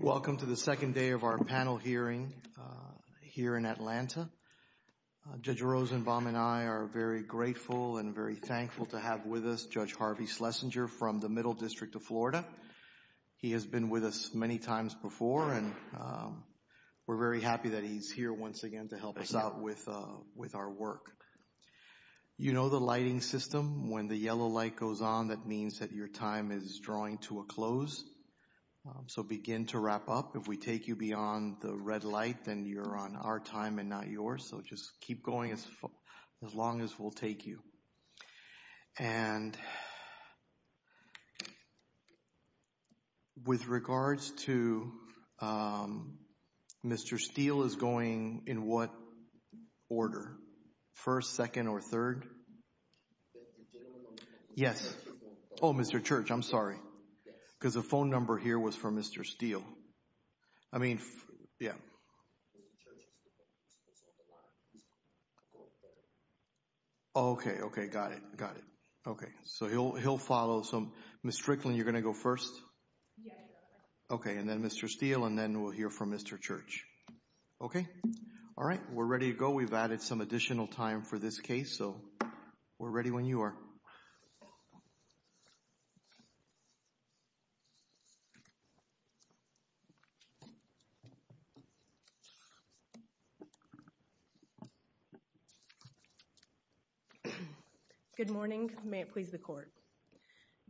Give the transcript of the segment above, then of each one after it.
Welcome to the second day of our panel hearing here in Atlanta. Judge Rosenbaum and I are very grateful and very thankful to have with us Judge Harvey Schlesinger from the Middle District of Florida. He has been with us many times before and we're very happy that he's here once again to help us out with our work. You know the lighting system, when the yellow light goes on, that means that your time is drawing to a close. So begin to wrap up. If we take you beyond the red light, then you're on our time and not yours. So just keep going as long as we'll take you. And with regards to Mr. Steele is going in what order? First, yes. Oh, Mr. Church, I'm sorry. Because the phone number here was for Mr. Steele. I mean, yeah. Okay, okay, got it. Got it. Okay, so he'll he'll follow some. Ms. Fricklin, you're going to go first. Okay, and then Mr. Steele, and then we'll hear from Mr. Church. Okay. All right, we're going to give you some additional time for this case. So we're ready when you are. Good morning, may it please the court.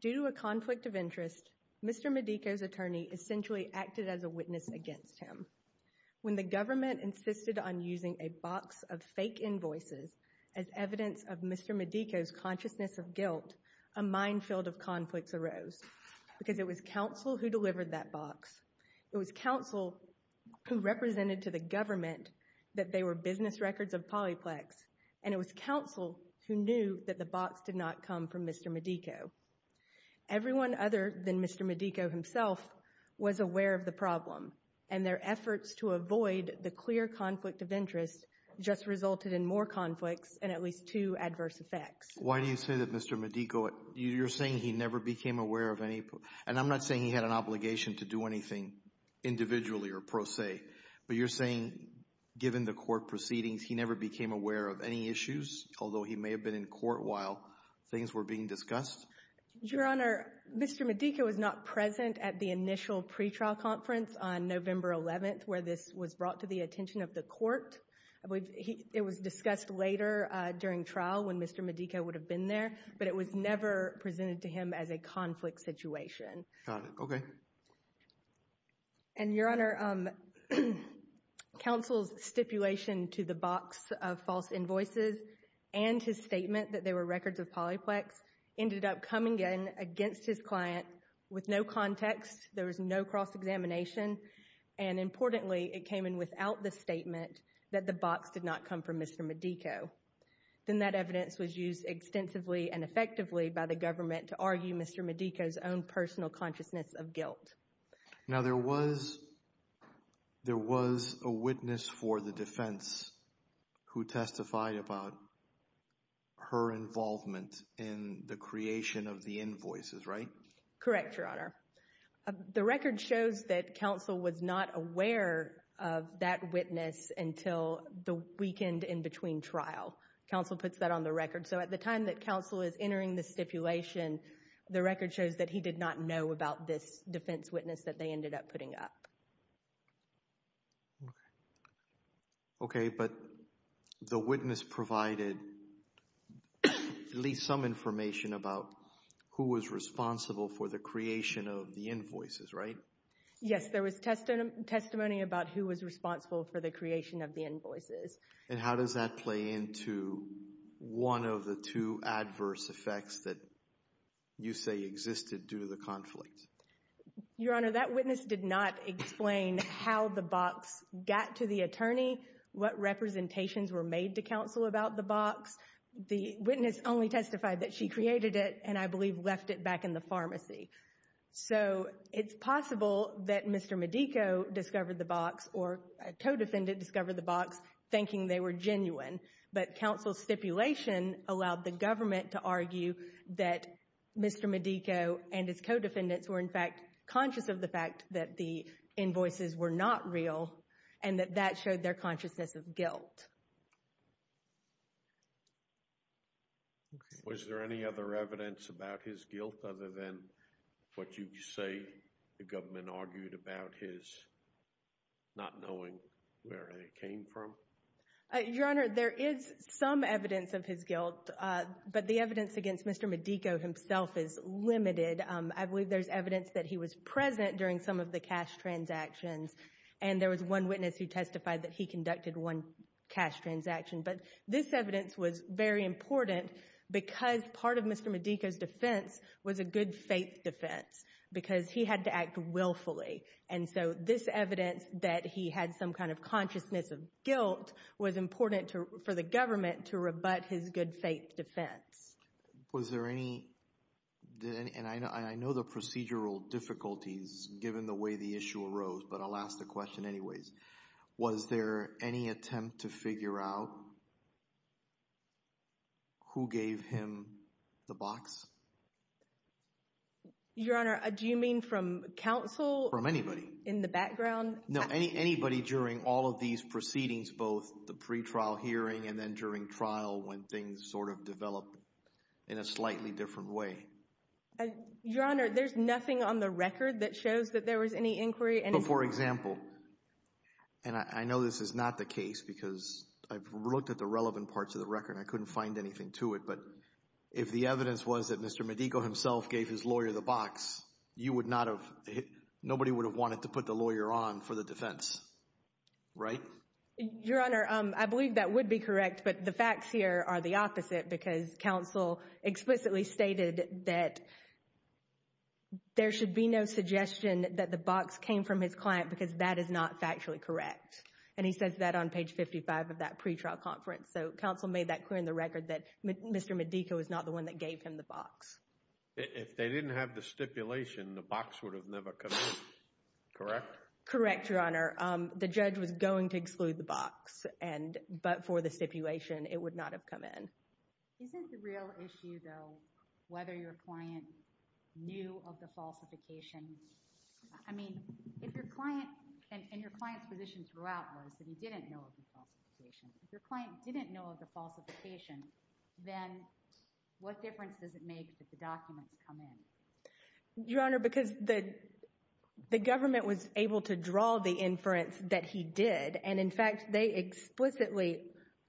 Due to a conflict of interest, Mr. Medico's attorney essentially acted as a witness against him. When the government insisted on using a box of fake invoices as evidence of Mr. Medico's consciousness of guilt, a minefield of conflicts arose because it was counsel who delivered that box. It was counsel who represented to the government that they were business records of Polyplex. And it was counsel who knew that the box did not come from Mr. Medico. Everyone other than Mr. Medico himself was aware of the problem and their efforts to avoid the clear conflict of interest just resulted in more conflicts and at least two adverse effects. Why do you say that Mr. Medico, you're saying he never became aware of any, and I'm not saying he had an obligation to do anything individually or pro se, but you're saying given the court proceedings he never became aware of any issues, although he may have been in court while things were being discussed? Your Honor, Mr. Medico is not present at the initial pretrial conference on November 11th where this was brought to the attention of the court. It was discussed later during trial when Mr. Medico would have been there, but it was never presented to him as a conflict situation. Got it, okay. And Your Honor, counsel's stipulation to the box of false invoices and his statement that they were records of Polyplex ended up coming in against his client with no context. There was no cross-examination and importantly it came in without the statement that the box could not come from Mr. Medico. Then that evidence was used extensively and effectively by the government to argue Mr. Medico's own personal consciousness of guilt. Now there was a witness for the defense who testified about her involvement in the creation of the invoices, right? Correct, Your Honor. The record shows that counsel was not aware of that witness until the weekend in between trials. Counsel puts that on the record, so at the time that counsel is entering the stipulation, the record shows that he did not know about this defense witness that they ended up putting up. Okay, but the witness provided at least some information about who was responsible for the creation of the invoices, right? Yes, there was testimony about who was responsible for the creation of the invoices. And how does that play into one of the two adverse effects that you say existed due to the conflict? Your Honor, that witness did not explain how the box got to the attorney, what representations were made to counsel about the box. The witness only testified that she created it and I believe left it back in the pharmacy. So it's possible that Mr. Medico discovered the box or a co-defendant discovered the box thinking they were genuine, but counsel's stipulation allowed the government to argue that Mr. Medico and his co-defendants were in fact conscious of the fact that the invoices were not real and that that showed their consciousness of their guilt. Is there any other evidence about his guilt other than what you say the government argued about his not knowing where they came from? Your Honor, there is some evidence of his guilt, but the evidence against Mr. Medico himself is limited. I believe there's evidence that he was present during some of the cash transactions, and there was one witness who testified that he conducted one cash transaction, but this evidence was very important because part of Mr. Medico's defense was a good faith defense because he had to act willfully, and so this evidence that he had some kind of consciousness of guilt was important for the government to rebut his good faith defense. Was there any, and I know the procedural difficulties given the way the issue arose, but I'll ask the question anyways, was there any attempt to figure out who gave him the box? Your Honor, do you mean from counsel? From anybody. In the background? No, anybody during all of these proceedings, both the pre-trial hearing and then during trial when things sort of developed in a slightly different way. Your Honor, there's nothing on the record that shows that there was any inquiry. But for example, and I know this is not the case because I've looked at the relevant parts of the record and I couldn't find anything to it, but if the evidence was that Mr. Medico himself gave his lawyer the box, you would not have, nobody would have wanted to put the lawyer on for the defense, right? Your Honor, I believe that would be correct, but the facts here are the opposite because counsel explicitly stated that there should be no suggestion that the box came from his client because that is not factually correct. And he says that on page 55 of that pre-trial conference. So counsel made that clear in the record that Mr. Medico was not the one that gave him the box. If they didn't have the stipulation, the box would have never come in, correct? Correct, Your Honor. The judge was going to exclude the box, but for the stipulation, it would not have come in. Isn't the real issue though whether your client knew of the falsification? I mean, if your client, and your client's position throughout was that he didn't know of the falsification, if your client didn't know of the falsification, then what difference does it make that the documents come in? Your Honor, because the government was able to draw the inference that he did. And in fact, they explicitly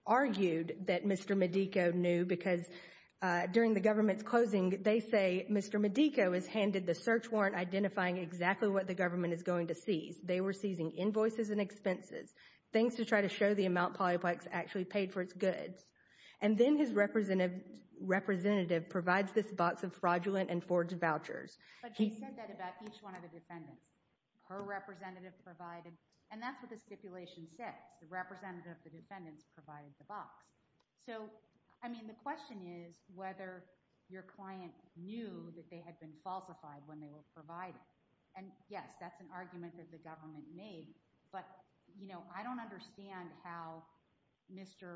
argued that Mr. Medico knew because during the government's closing, they say Mr. Medico is handed the search warrant identifying exactly what the government is going to seize. They were seizing invoices and expenses, things to try to show the amount Polyplex actually paid for its goods. And then his representative provides this box of fraudulent and forged vouchers. But he said that about each one of the defendants. Her representative provided, and that's what the stipulation said. The representative of the defendants provided the box. So, I mean, the question is whether your client knew that they had been falsified when they were provided. And yes, that's an argument that the government made, but, you know, I don't understand how Mr.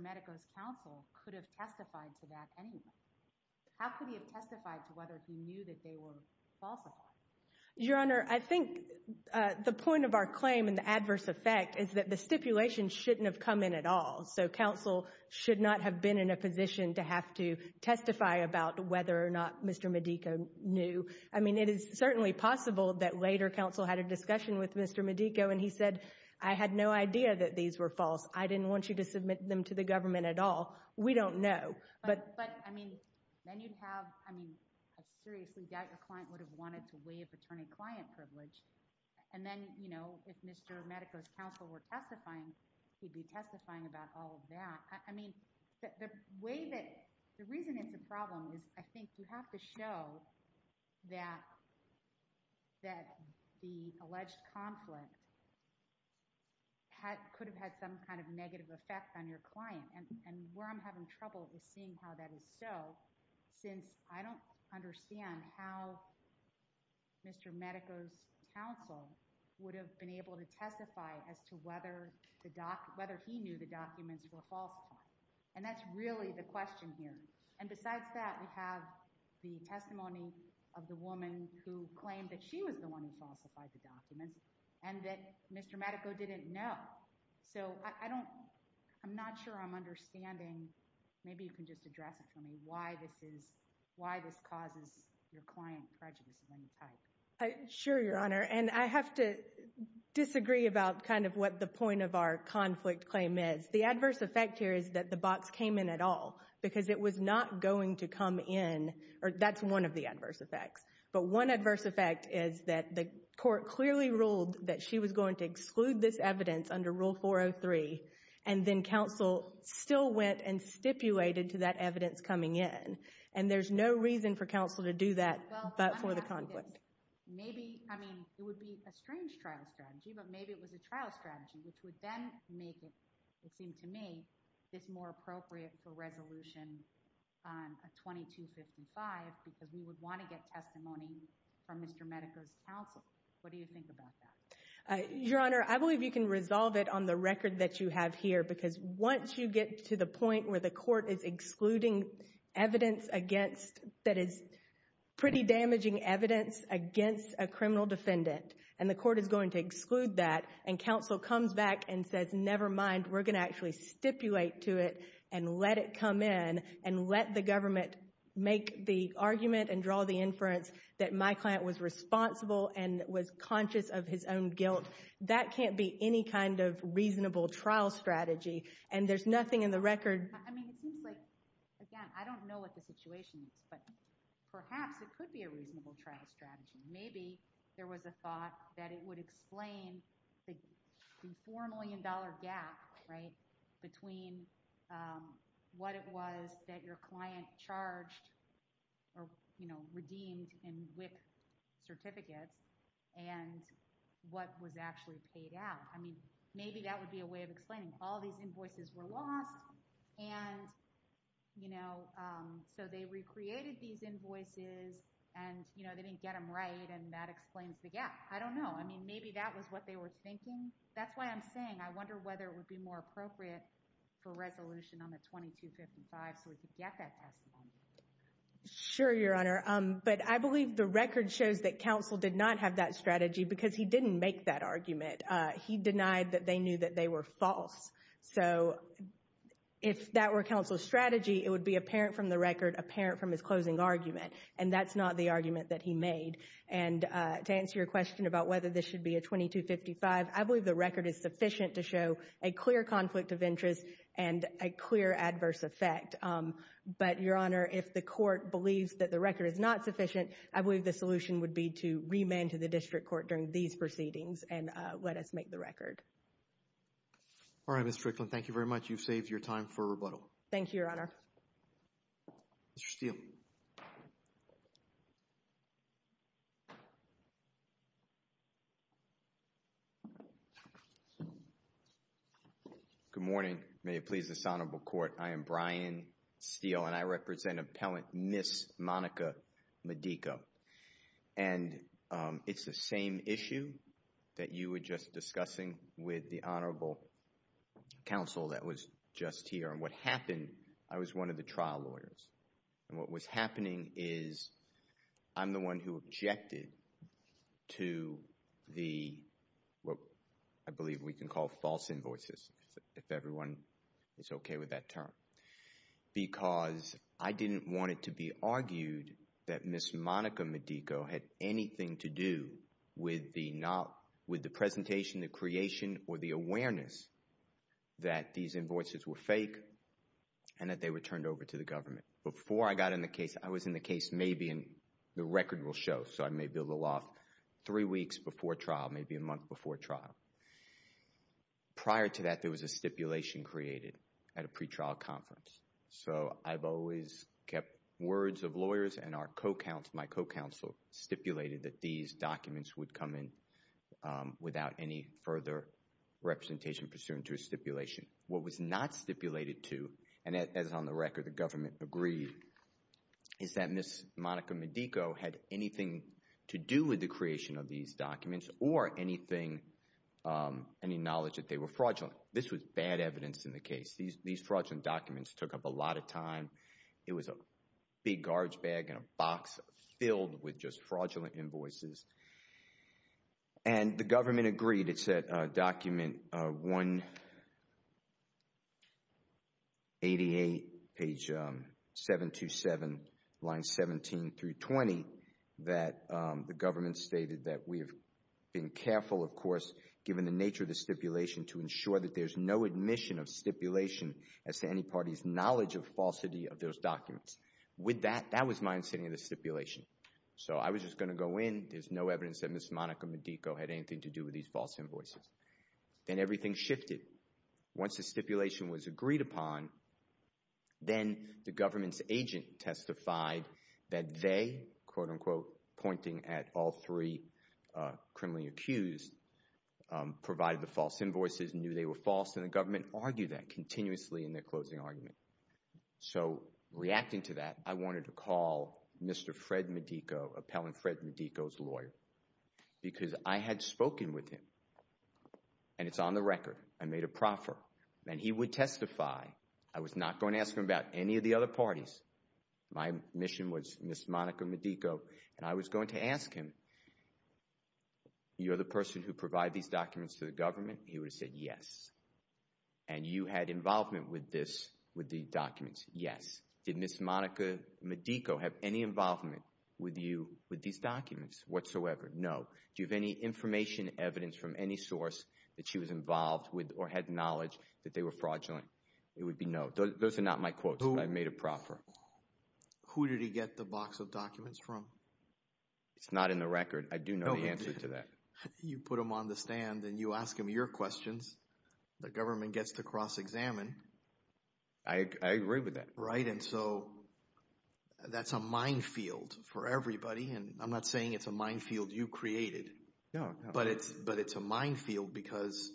Medico's counsel could have testified to that anyway. How could he have testified? I think the point of our claim and the adverse effect is that the stipulation shouldn't have come in at all. So, counsel should not have been in a position to have to testify about whether or not Mr. Medico knew. I mean, it is certainly possible that later counsel had a discussion with Mr. Medico and he said, I had no idea that these were false. I didn't want you to submit them to the government at all. We don't know. But I mean, then you'd have, I mean, that your client would have wanted to waive attorney-client privilege. And then, you know, if Mr. Medico's counsel were testifying, he'd be testifying about all of that. I mean, the way that, the reason it's a problem is I think you have to show that the alleged conflict could have had some kind of negative effect on your client. And where I'm having trouble just seeing how that is so, since I don't understand how Mr. Medico's counsel would have been able to testify as to whether the doc, whether he knew the documents were false. And that's really the question here. And besides that, we have the testimony of the woman who claimed that she was the one who falsified the documents and that Mr. Medico didn't know. So, I don't, I'm not sure I'm understanding, maybe you can just address this for me, why this is, why this causes your client prejudice of any type. Sure, Your Honor. And I have to disagree about kind of what the point of our conflict claim is. The adverse effect here is that the box came in at all because it was not going to come in, or that's one of the adverse effects. But one adverse effect is that the court clearly ruled that she was going to exclude this evidence under Rule 403 and then counsel still went and stipulated to that evidence coming in. And there's no reason for counsel to do that but for the conflict. Maybe, I mean, it would be a strange trial strategy, but maybe it was a trial strategy, which would then make it, it seems to me, it's more appropriate for resolution on a 2255 because we would want to get testimony from Mr. Medico's counsel. What do you think about that? Your Honor, I believe you can resolve it on the record that you have here because once you get to the point where the court is excluding evidence against, that is pretty damaging evidence against a criminal defendant, and the court is going to exclude that, and counsel comes back and says, never mind, we're going to actually stipulate to it and let it come in and let the government make the argument and draw the inference that my client was responsible and was conscious of his own guilt. That can't be any kind of reasonable trial strategy, and there's nothing in the record. I mean, it seems like, again, I don't know what the situation is, but perhaps it could be a reasonable trial strategy. Maybe there was a thought that it would explain the $4 million gap, right, between what it was that your client charged or, you know, redeemed in WIC's certificate and what was actually paid out. I mean, maybe that would be a way of explaining all these invoices were lost and, you know, so they recreated these invoices and, you know, they didn't get them right and that explains the gap. I don't know. I mean, maybe that was what they were thinking. That's why I'm saying I wonder whether it would be more appropriate for resolution on the 2255. Sure, Your Honor, but I believe the record shows that counsel did not have that strategy because he didn't make that argument. He denied that they knew that they were false, so if that were counsel's strategy, it would be apparent from the record, apparent from his closing argument, and that's not the argument that he made, and to answer your question about whether this should be 2255, I believe the record is sufficient to show a clear conflict of interest and a clear adverse effect, but, Your Honor, if the court believes that the record is not sufficient, I believe the solution would be to remand to the district court during these proceedings and let us make the record. All right, Ms. Strickland, thank you very much. You've saved your time for rebuttal. Thank you, Your Honor. Mr. Steele. Good morning. May it please this Honorable Court, I am Brian Steele, and I represent Appellant Ms. Monica Medico, and it's the same issue that you were just discussing with the Honorable Counsel that was just here, and what happened, I was one of the trial lawyers, and what was happening is I'm the one who objected to the, what I believe we can call false invoices, if everyone is okay with that term, because I didn't want it to be argued that Ms. Monica Medico had anything to do with the presentation, the creation, or the awareness that these invoices were fake and that they were turned over to the government. Before I got in the case, I was in the case maybe, and the record will show, so I may build a law three weeks before trial, maybe a month before trial. Prior to that, there was a stipulation created at a pretrial conference, so I've always kept words of lawyers and our co-counsel, my co-counsel stipulated that these documents would come in without any further representation pursuant to a stipulation. What was not stipulated to, and as on the record, the government agreed, is that Ms. Monica Medico had anything to do with the creation of these documents or anything, any knowledge that they were fraudulent. This was bad evidence in the case. These fraudulent documents took up a lot of time. It was a big garage bag in a box filled with just fraudulent invoices, and the government agreed. It said document 188, page 727, line 17 through 20, that the government stated that we've been careful, of course, given the nature of the stipulation, as to any party's knowledge of falsity of those documents. With that, that was my understanding of the stipulation. So I was just going to go in. There's no evidence that Ms. Monica Medico had anything to do with these false invoices. Then everything shifted. Once the stipulation was agreed upon, then the government's agent testified that they, quote-unquote, pointing at all three criminally accused, provided the false invoices and knew they were false, and the government argued that continuously in their closing argument. So reacting to that, I wanted to call Mr. Fred Medico, Appellant Fred Medico's lawyer, because I had spoken with him, and it's on the record. I made a proffer, and he would testify. I was not going to ask him about any of the other parties. My mission was Ms. Monica Medico, and I was going to ask him, you're the person who provided these documents to the government? He would have said yes. And you had involvement with these documents? Yes. Did Ms. Monica Medico have any involvement with you with these documents whatsoever? No. Do you have any information, evidence from any source that she was involved with or had knowledge that they were fraudulent? It would be no. Those are not my quotes, but I made a proffer. Who did he get the box of documents from? It's not in the record. I do know the answer to that. You put them on the stand, and you ask them your questions. The government gets to cross-examine. I agree with that. Right? And so that's a minefield for everybody, and I'm not saying it's a minefield you created. No. But it's a minefield because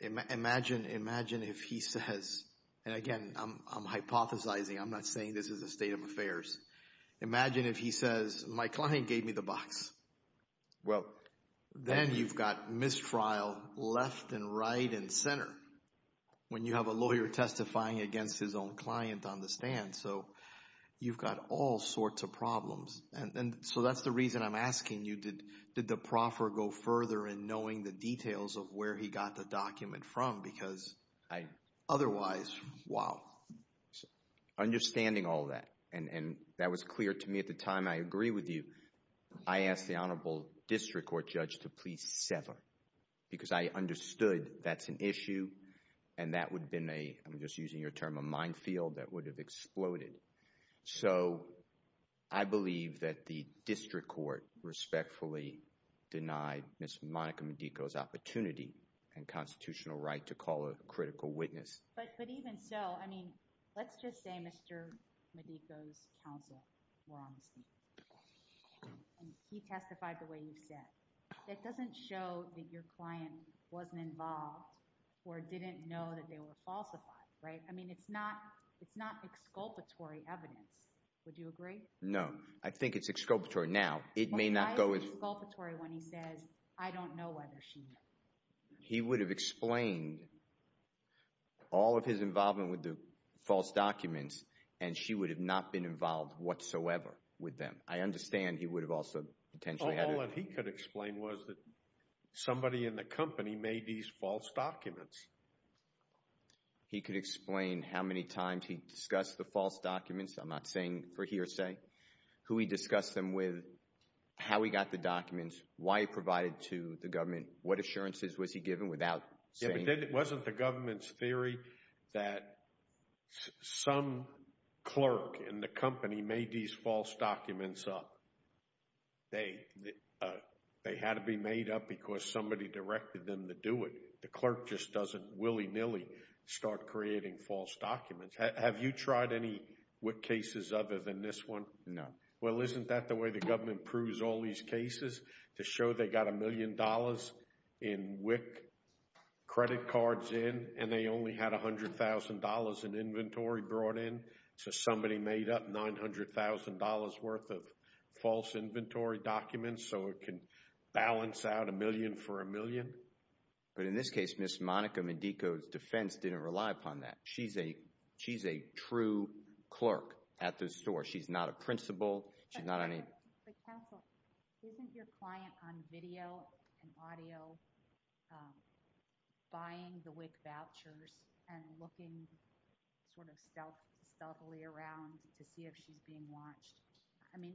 imagine if he says, and again, I'm hypothesizing. I'm not saying this is a state of affairs. Imagine if he says, my client gave me the box. Well, then you've got mistrial left and right and center when you have a lawyer testifying against his own client on the stand. So you've got all sorts of problems. And so that's the reason I'm asking you, did the proffer go further in knowing the details of where he got the document from? Because otherwise, wow. So understanding all that, and that was clear to me at the time, I agree with you. I asked the honorable district court judge to please sever because I understood that's an issue, and that would have been a, I'm just using your term, a minefield that would have exploded. So I believe that the district court respectfully denied Ms. Monica Medico's opportunity and constitutional right to call a critical witness. But even so, I mean, let's just say Mr. Medico's counsel, he testified the way you said. That doesn't show that your client wasn't involved or didn't know that they were falsified, right? I mean, it's not exculpatory evidence. Would you agree? No, I think it's exculpatory. Now, it may not go as- He would have explained all of his involvement with the false documents, and she would have not been involved whatsoever with them. I understand he would have also potentially- All he could explain was that somebody in the company made these false documents. He could explain how many times he discussed the false documents, I'm not saying for hearsay, who he discussed them with, how he got the documents, why he provided to the government, what assurances was he given without saying- Yeah, but wasn't the government's theory that some clerk in the company made these false documents up? They had to be made up because somebody directed them to do it. The clerk just doesn't willy-nilly start creating false documents. Have you tried any cases other than this one? No. Well, isn't that the way the WIC credit cards in, and they only had $100,000 in inventory brought in, so somebody made up $900,000 worth of false inventory documents so it can balance out a million for a million? But in this case, Ms. Monica Medico's defense didn't rely upon that. She's a true clerk at the store. She's not a principal. Counsel, isn't your client on video and audio buying the WIC vouchers and looking sort of stealthily around to see if she's being watched? I mean,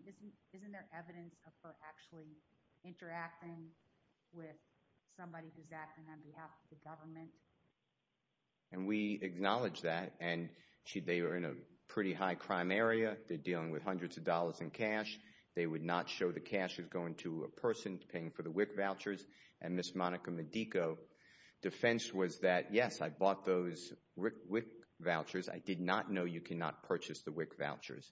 isn't there evidence of her actually interacting with somebody who's acting on behalf of the government? And we acknowledge that, and they are in a pretty high crime area. They're dealing with cash. They would not show the cash is going to a person paying for the WIC vouchers, and Ms. Monica Medico's defense was that, yes, I bought those WIC vouchers. I did not know you cannot purchase the WIC vouchers,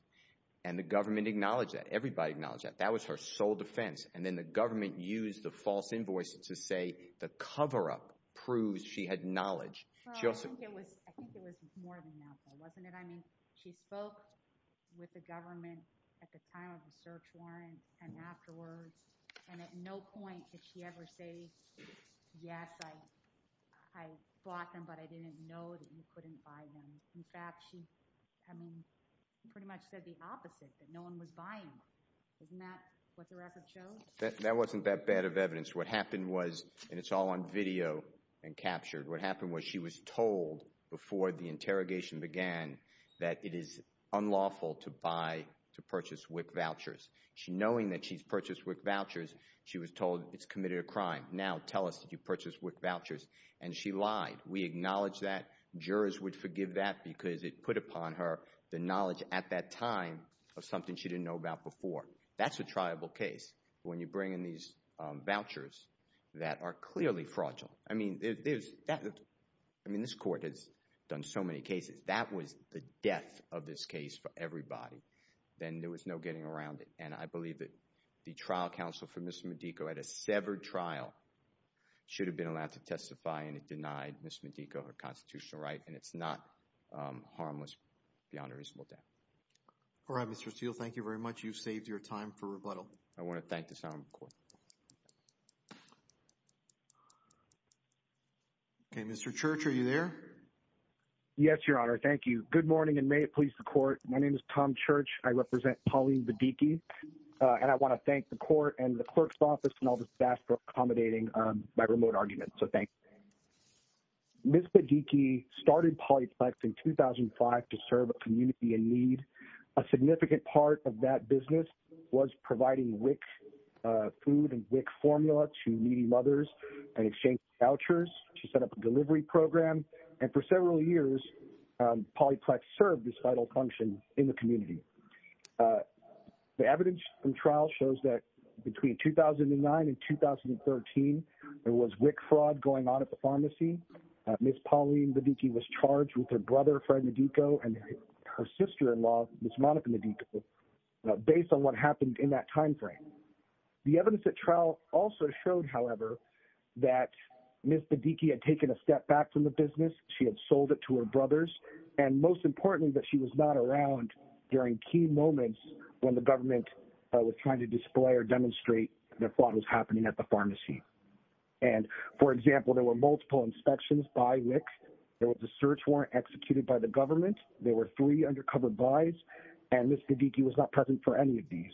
and the government acknowledged that. Everybody acknowledged that. That was her sole defense, and then the government used the false invoice to say the cover-up proves she had knowledge. I think it was more of a mouthful, wasn't it? She spoke with the government at the time of the search warrant and afterwards, and at no point did she ever say, yes, I bought them, but I didn't know that you couldn't buy them. In fact, she pretty much said the opposite, that no one was buying them. Isn't that what the record shows? That wasn't that bad of evidence. What happened was, and it's all on video and captured, what happened was she was told before the interrogation began that it is unlawful to buy, to purchase WIC vouchers. Knowing that she's purchased WIC vouchers, she was told it's committed a crime. Now tell us that you purchased WIC vouchers, and she lied. We acknowledge that. Jurors would forgive that because it put upon her the knowledge at that time of something she didn't know about before. That's a triable case when you bring in these vouchers that are clearly fraudulent. I mean, this court has done so many cases. That was the death of this case for everybody. Then there was no getting around it, and I believe that the trial counsel for Ms. Modico at a severed trial should have been allowed to testify, and it denied Ms. Modico her constitutional right, and it's not harmless beyond a reasonable doubt. All right, Mr. Steele, thank you very much. You saved your time for rebuttal. I want to thank the time, of course. Okay, Mr. Church, are you there? Yes, Your Honor. Thank you. Good morning, and may it please the court. My name is Tom Church. I represent Pauline Badiki, and I want to thank the court and the clerk's office and all the staff for accommodating my remote argument, so thanks. Ms. Badiki started Pauline Plex in 2005 to serve a community in need. A significant part of that business was providing WIC food and WIC formula to needy mothers and exchange vouchers. She set up a delivery program, and for several years, Pauline Plex served this vital function in the community. The evidence from trial shows that between 2009 and 2013, there was WIC fraud going on at the pharmacy. Ms. Pauline Badiki was charged with her brother, Fred Medico, and her sister-in-law, Ms. Monica Medico, based on what happened in that timeframe. The evidence at trial also showed, however, that Ms. Badiki had taken a step back from the business. She had sold it to her brothers, and most importantly, that she was not around during key moments when the government was trying to display or demonstrate that fraud was happening at the pharmacy. For example, there were multiple inspections by WIC. There was a search warrant executed by the government. There were three undercover buys, and Ms. Badiki was not present for any of these.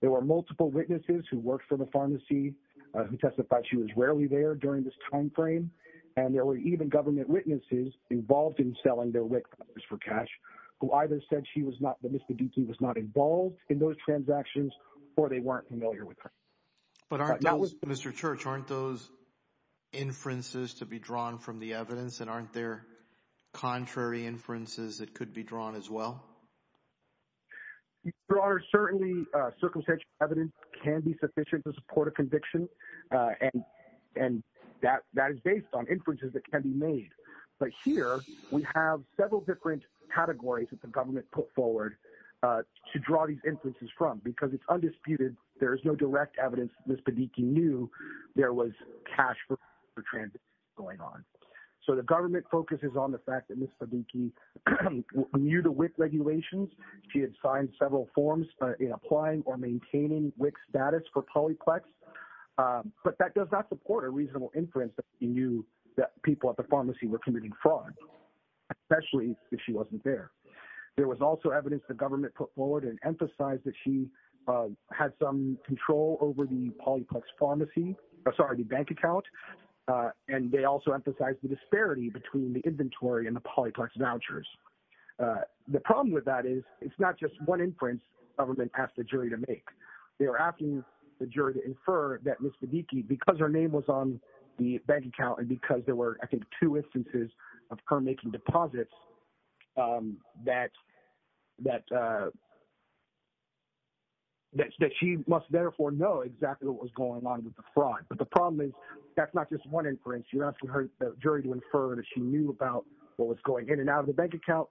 There were multiple witnesses who worked for the pharmacy who testified she was rarely there during this timeframe, and there were even government witnesses involved in selling their WIC for cash who either said she was not, that Ms. Badiki was not involved in those transactions, or they weren't familiar with her. But aren't those, Mr. Church, aren't those inferences to be drawn from the evidence, and aren't there contrary inferences that could be drawn as well? Your Honor, certainly, circumstantial evidence can be sufficient to support a conviction, and that is based on inferences that can be made. But here, we have several different categories that the government put forward to draw these inferences from, because it's undisputed. There was cash for transactions going on. So the government focuses on the fact that Ms. Badiki knew the WIC regulations. She had signed several forms applying or maintaining WIC status for Polyplex, but that does not support a reasonable inference that she knew that people at the pharmacy were committing fraud, especially if she wasn't there. There was also evidence the bank account, and they also emphasized the disparity between the inventory and the Polyplex vouchers. The problem with that is it's not just one inference the government asked the jury to make. They were asking the jury to infer that Ms. Badiki, because her name was on the bank account and because there were, I think, two instances of her making deposits, that she must therefore know exactly what was going on with the fraud. But the problem is that's not just one inference. You're asking her jury to infer that she knew about what was going in and out of the bank account,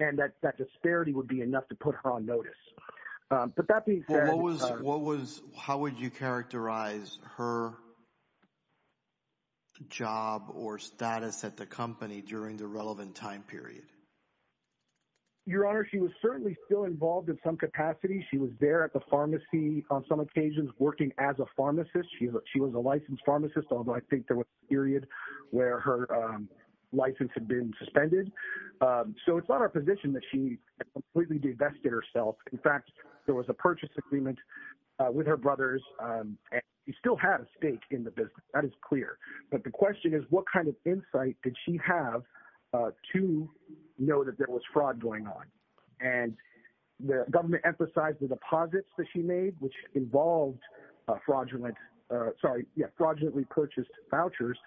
and that disparity would be enough to put her on notice. But that being said... Well, how would you characterize her job or status at the company during the relevant time period? Your Honor, she was certainly still involved in some capacity. She was there at the pharmacy on some occasions working as a pharmacist. She was a licensed pharmacist, although I think there was a period where her license had been suspended. So it's not a position that she completely divested herself. In fact, there was a purchase agreement with her brothers. She still had a stake in the business. That is clear. But the question is what kind of insight did she have to know that there was fraud going on? And the government emphasized the deposits that she made, which involved fraudulently purchased vouchers.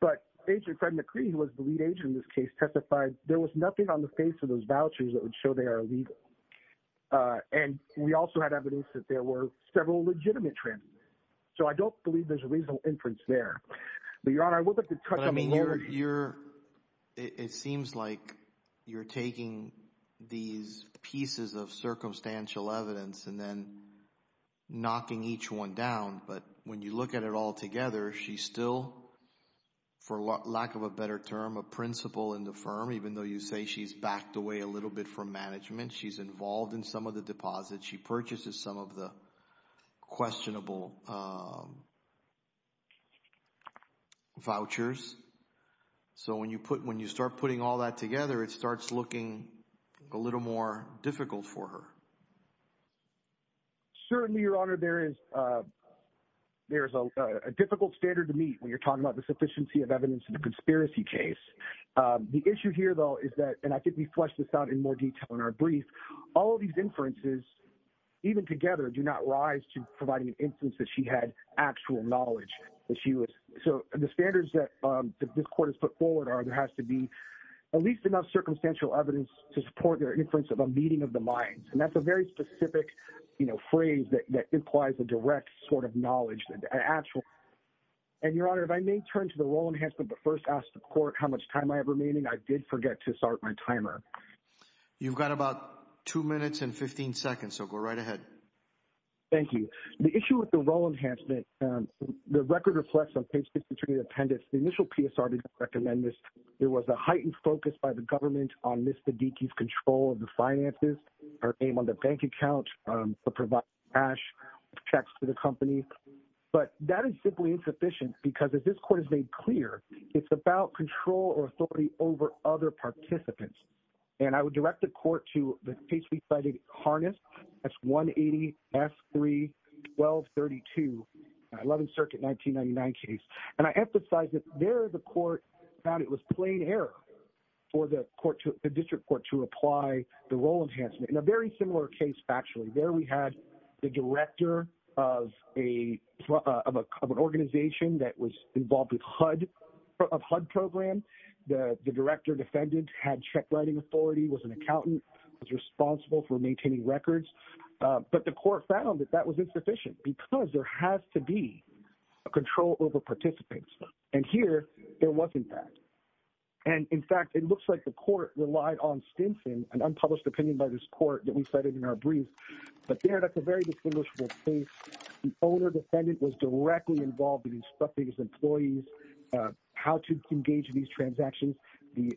But Agent Fred McCree, who was the lead agent in this case, testified there was nothing on the face of those vouchers that would show they are illegal. And we also had evidence that there were several legitimate transactions. So I don't believe there's a reasonable inference there. But Your Honor, I would like to touch on... It seems like you're taking these pieces of circumstantial evidence and then knocking each one down. But when you look at it all together, she's still, for lack of a better term, a principal in the firm, even though you say she's backed away a little bit from management. She's involved in some of the deposits. She purchases some of the So when you start putting all that together, it starts looking a little more difficult for her. Certainly, Your Honor, there is a difficult standard to meet when you're talking about the sufficiency of evidence in a conspiracy case. The issue here, though, is that, and I think we fleshed this out in more detail in our brief, all of these inferences, even together, do not rise to providing an instance that she had actual knowledge that she was... So the standards that this court has put forward are there has to be at least enough circumstantial evidence to support their inference of a meeting of the minds. And that's a very specific phrase that implies a direct sort of knowledge. And Your Honor, if I may turn to the role enhancement, but first ask the court how much time I have remaining. I did forget to start my timer. You've got about two minutes and 15 seconds, so go right ahead. Thank you. The issue with the role enhancement, the record reflects on page 53 of the appendix. The initial PSR didn't recommend this. There was a heightened focus by the government on Ms. Baddicki's control of the finances, her aim on the bank account to provide cash, checks to the company. But that is simply insufficient because, as this court has made clear, it's about control or authority over other participants. And I would direct the court to the case we cited, Harness, that's 180S3-1232, 11th Circuit, 1999 case. And I emphasize that there the court found it was plain error for the district court to apply the role enhancement. In a very similar case, actually, there we had the director of an organization that was involved with HUD program. The director defendant had check writing authority, was an accountant, was responsible for maintaining records. But the court found that that was insufficient because there has to be a control over participants. And here, there wasn't that. And, in fact, it looks like the court relied on Stinson, an unpublished opinion by this court that we cited in our brief. But there, that's a very distinguishable case. The owner defendant was directly involved in how to engage in these transactions. The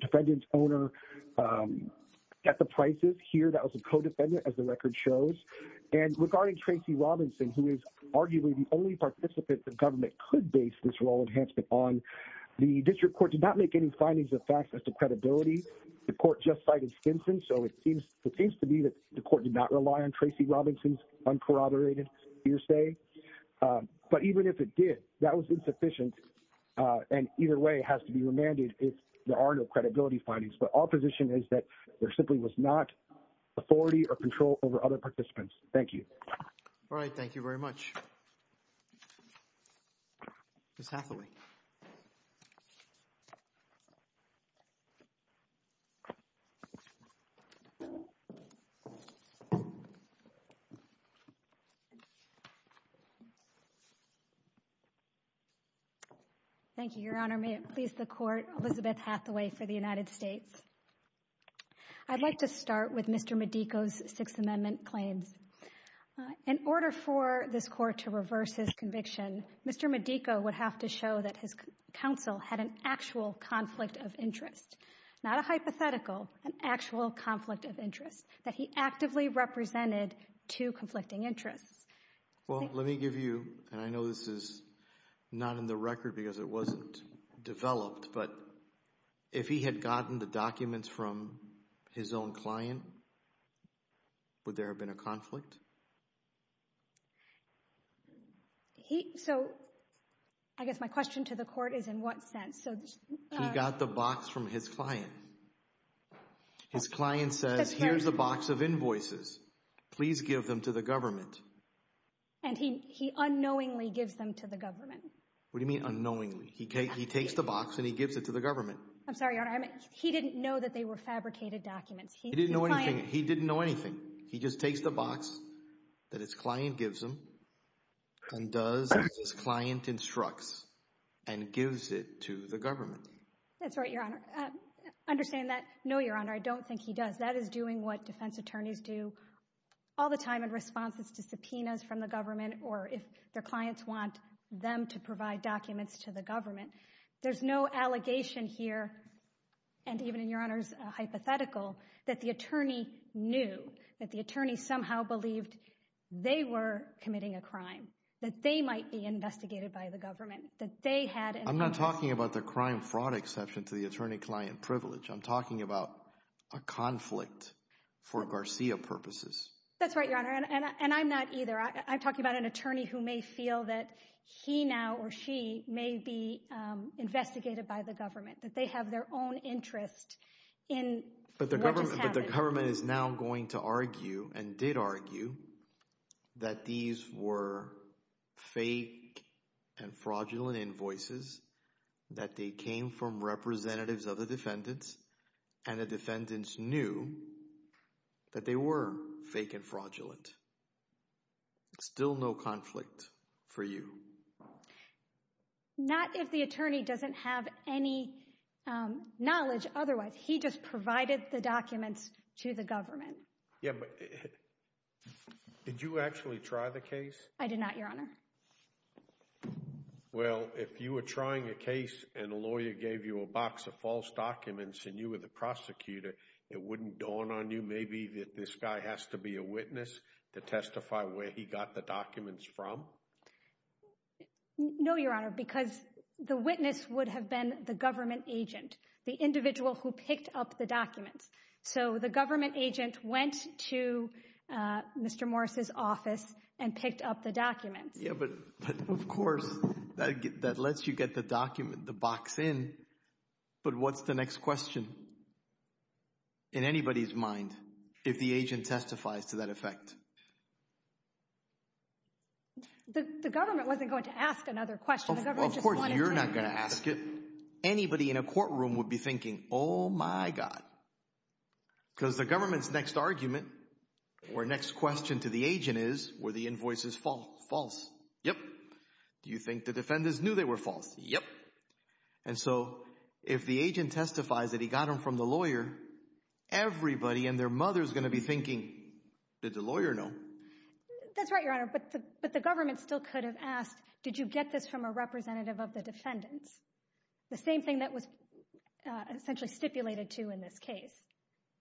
defendant's owner got the prices. Here, that was a co-defendant, as the record shows. And regarding Tracy Robinson, who is arguably the only participant the government could base this role enhancement on, the district court did not make any findings or facts as to credibility. The court just cited Stinson. So it seems to be that the court did not rely on Tracy Robinson's position. And either way, it has to be remanded if there are no credibility findings. But our position is that there simply was not authority or control over other participants. Thank you. All right. Thank you very much. Thank you, Your Honor. May it please the court, Elizabeth Hathaway for the United States. I'd like to start with Mr. Medico's Sixth Amendment claims. In order for this court to reverse his conviction, Mr. Medico would have to show that his counsel had an actual conflict of interest, not a hypothetical, an actual conflict of interest, that he actively represented two conflicting interests. Well, let me give you, and I know this is not in the record because it wasn't developed, but if he had gotten the documents from his own client, would there have been a conflict? So I guess my question to the court is in what sense? He got the box from his client. His client says, here's a box of invoices. Please give them to the government. And he unknowingly gives them to the government. What do you mean unknowingly? He takes the box and he gives it to the government. I'm sorry, Your Honor. He didn't know that they were fabricated documents. He didn't know anything. He just takes the box that his client gives him and does what his client instructs and gives it to the government. That's right, Your Honor. Understand that, no, Your Honor, I don't think he does. That is doing what defense attorneys do all the time in response to subpoenas from the government or if their clients want them to provide documents to the government. There's no allegation here, and even in Your Honor's hypothetical, that the attorney knew, that the attorney somehow believed they were committing a crime, that they might be investigated by the government, that they had... I'm not talking about the crime fraud exception to the attorney-client privilege. I'm talking about a conflict for Garcia purposes. That's right, Your Honor, and I'm not either. I'm talking about an attorney who may feel that he now or she may be investigated by the government, that they have their own interest in... But the government is now going to argue and did argue that these were fake and fraudulent invoices, that they came from representatives of the defendants and the defendants knew that they were fake and fraudulent. Still no conflict for you. Not if the attorney doesn't have any knowledge otherwise. He just provided the documents to the government. Yeah, but did you actually try the case? I did not, Your Honor. Well, if you were trying a case and a lawyer gave you a box of false documents and you were the prosecutor, it wouldn't dawn on you maybe that this guy has to be a witness to testify where he got the documents from? No, Your Honor, because the witness would have been the government agent, the individual who picked up the documents. So the government agent went to Mr. Morris's office and picked up the documents. Yeah, but of course, that lets you get the document, the box in, but what's the next question in anybody's mind if the agent testifies to that effect? The government wasn't going to ask another question. Of course, you're not going to ask it. Anybody in a courtroom would be thinking, oh my God, because the government's next argument or next question to the agent is, were the invoices false? False. Yep. Do you think the defendants knew they were false? Yep. And so if the agent testifies that he got them from the lawyer, everybody and their mother's going to be thinking, did the lawyer know? That's right, Your Honor, but the government still could have asked, did you get this from a representative of the defendant? The same thing that was essentially stipulated to in this case.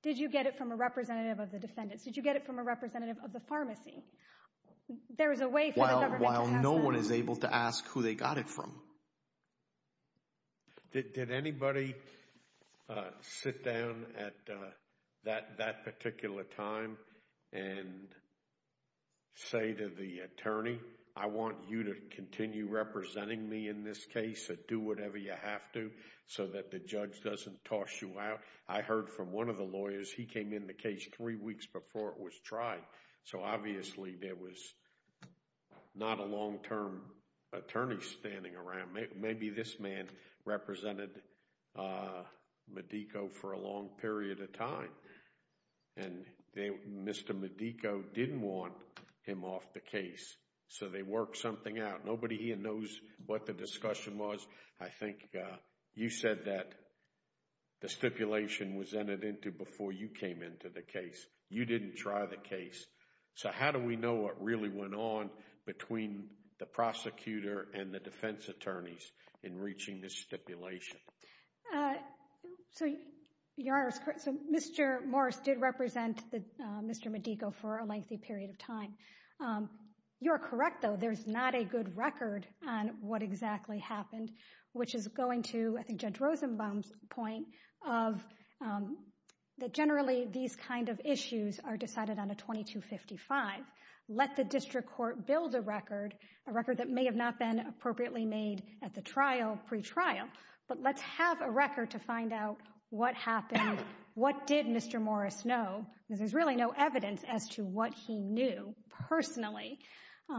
Did you get it from a representative of the defendant? Did you get it from a representative of the pharmacy? While no one is able to ask who they got it from. Did anybody sit down at that particular time and say to the attorney, I want you to continue representing me in this case and do whatever you have to so that the judge doesn't toss you out? I heard from one of the lawyers, he came in the case three weeks before it was tried, so obviously there was not a long-term attorney standing around. Maybe this man represented Medico for a long period of time, and Mr. Medico didn't want him off the case, so they worked something out. Nobody here knows what the discussion was. I think you said that the stipulation was entered into before you came into the case. You didn't try the case, so how do we know what really went on between the prosecutor and the defense attorneys in reaching this stipulation? So, Your Honor, Mr. Morris did represent Mr. Medico for a lengthy period of time. You're correct, though, there's not a good record on what exactly happened, which is going to, I think, Judge Rosenbaum's point that generally these kind of issues are decided on a 2255. Let the district court build a record, a record that may have not been appropriately made at the trial, pre-trial, but let's have a record to find out what happened, what did Mr. Morris know? There's really no evidence as to what he knew personally. You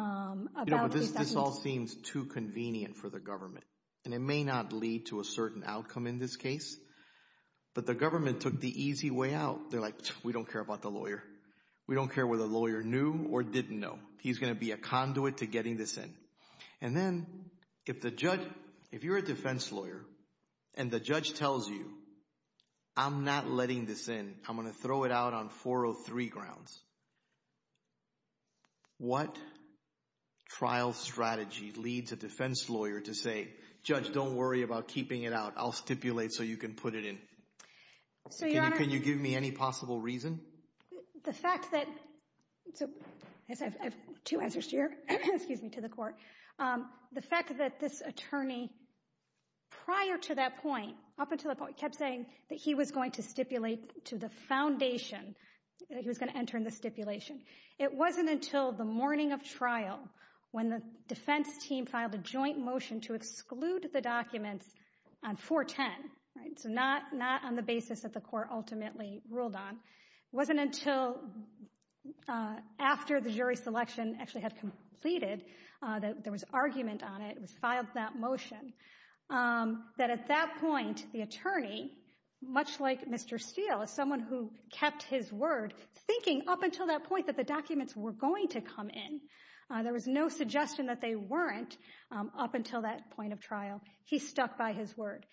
know, this all seems too convenient for the government, and it may not lead to a certain outcome in this case, but the government took the easy way out. They're like, we don't care about the lawyer. We don't care whether the lawyer knew or didn't know. He's going to be a conduit to getting this in, and then if the judge, if you're a defense lawyer and the judge trial strategy leads a defense lawyer to say, Judge, don't worry about keeping it out. I'll stipulate so you can put it in. Can you give me any possible reason? The fact that, the fact that this attorney prior to that point, up until the point, kept saying that he was going to stipulate to the foundation, he was going to enter in the stipulation. It wasn't until the morning of trial, when the defense team filed a joint motion to exclude the document on 410, right, so not on the basis that the court ultimately ruled on. It wasn't until after the jury selection actually had completed, that there was argument on it, it was filed that motion, that at that point, the attorney, much like Mr. Steele, as someone who kept his word, thinking up until that point that the documents were going to come in, there was no suggestion that they weren't up until that point of trial. He stuck by his word,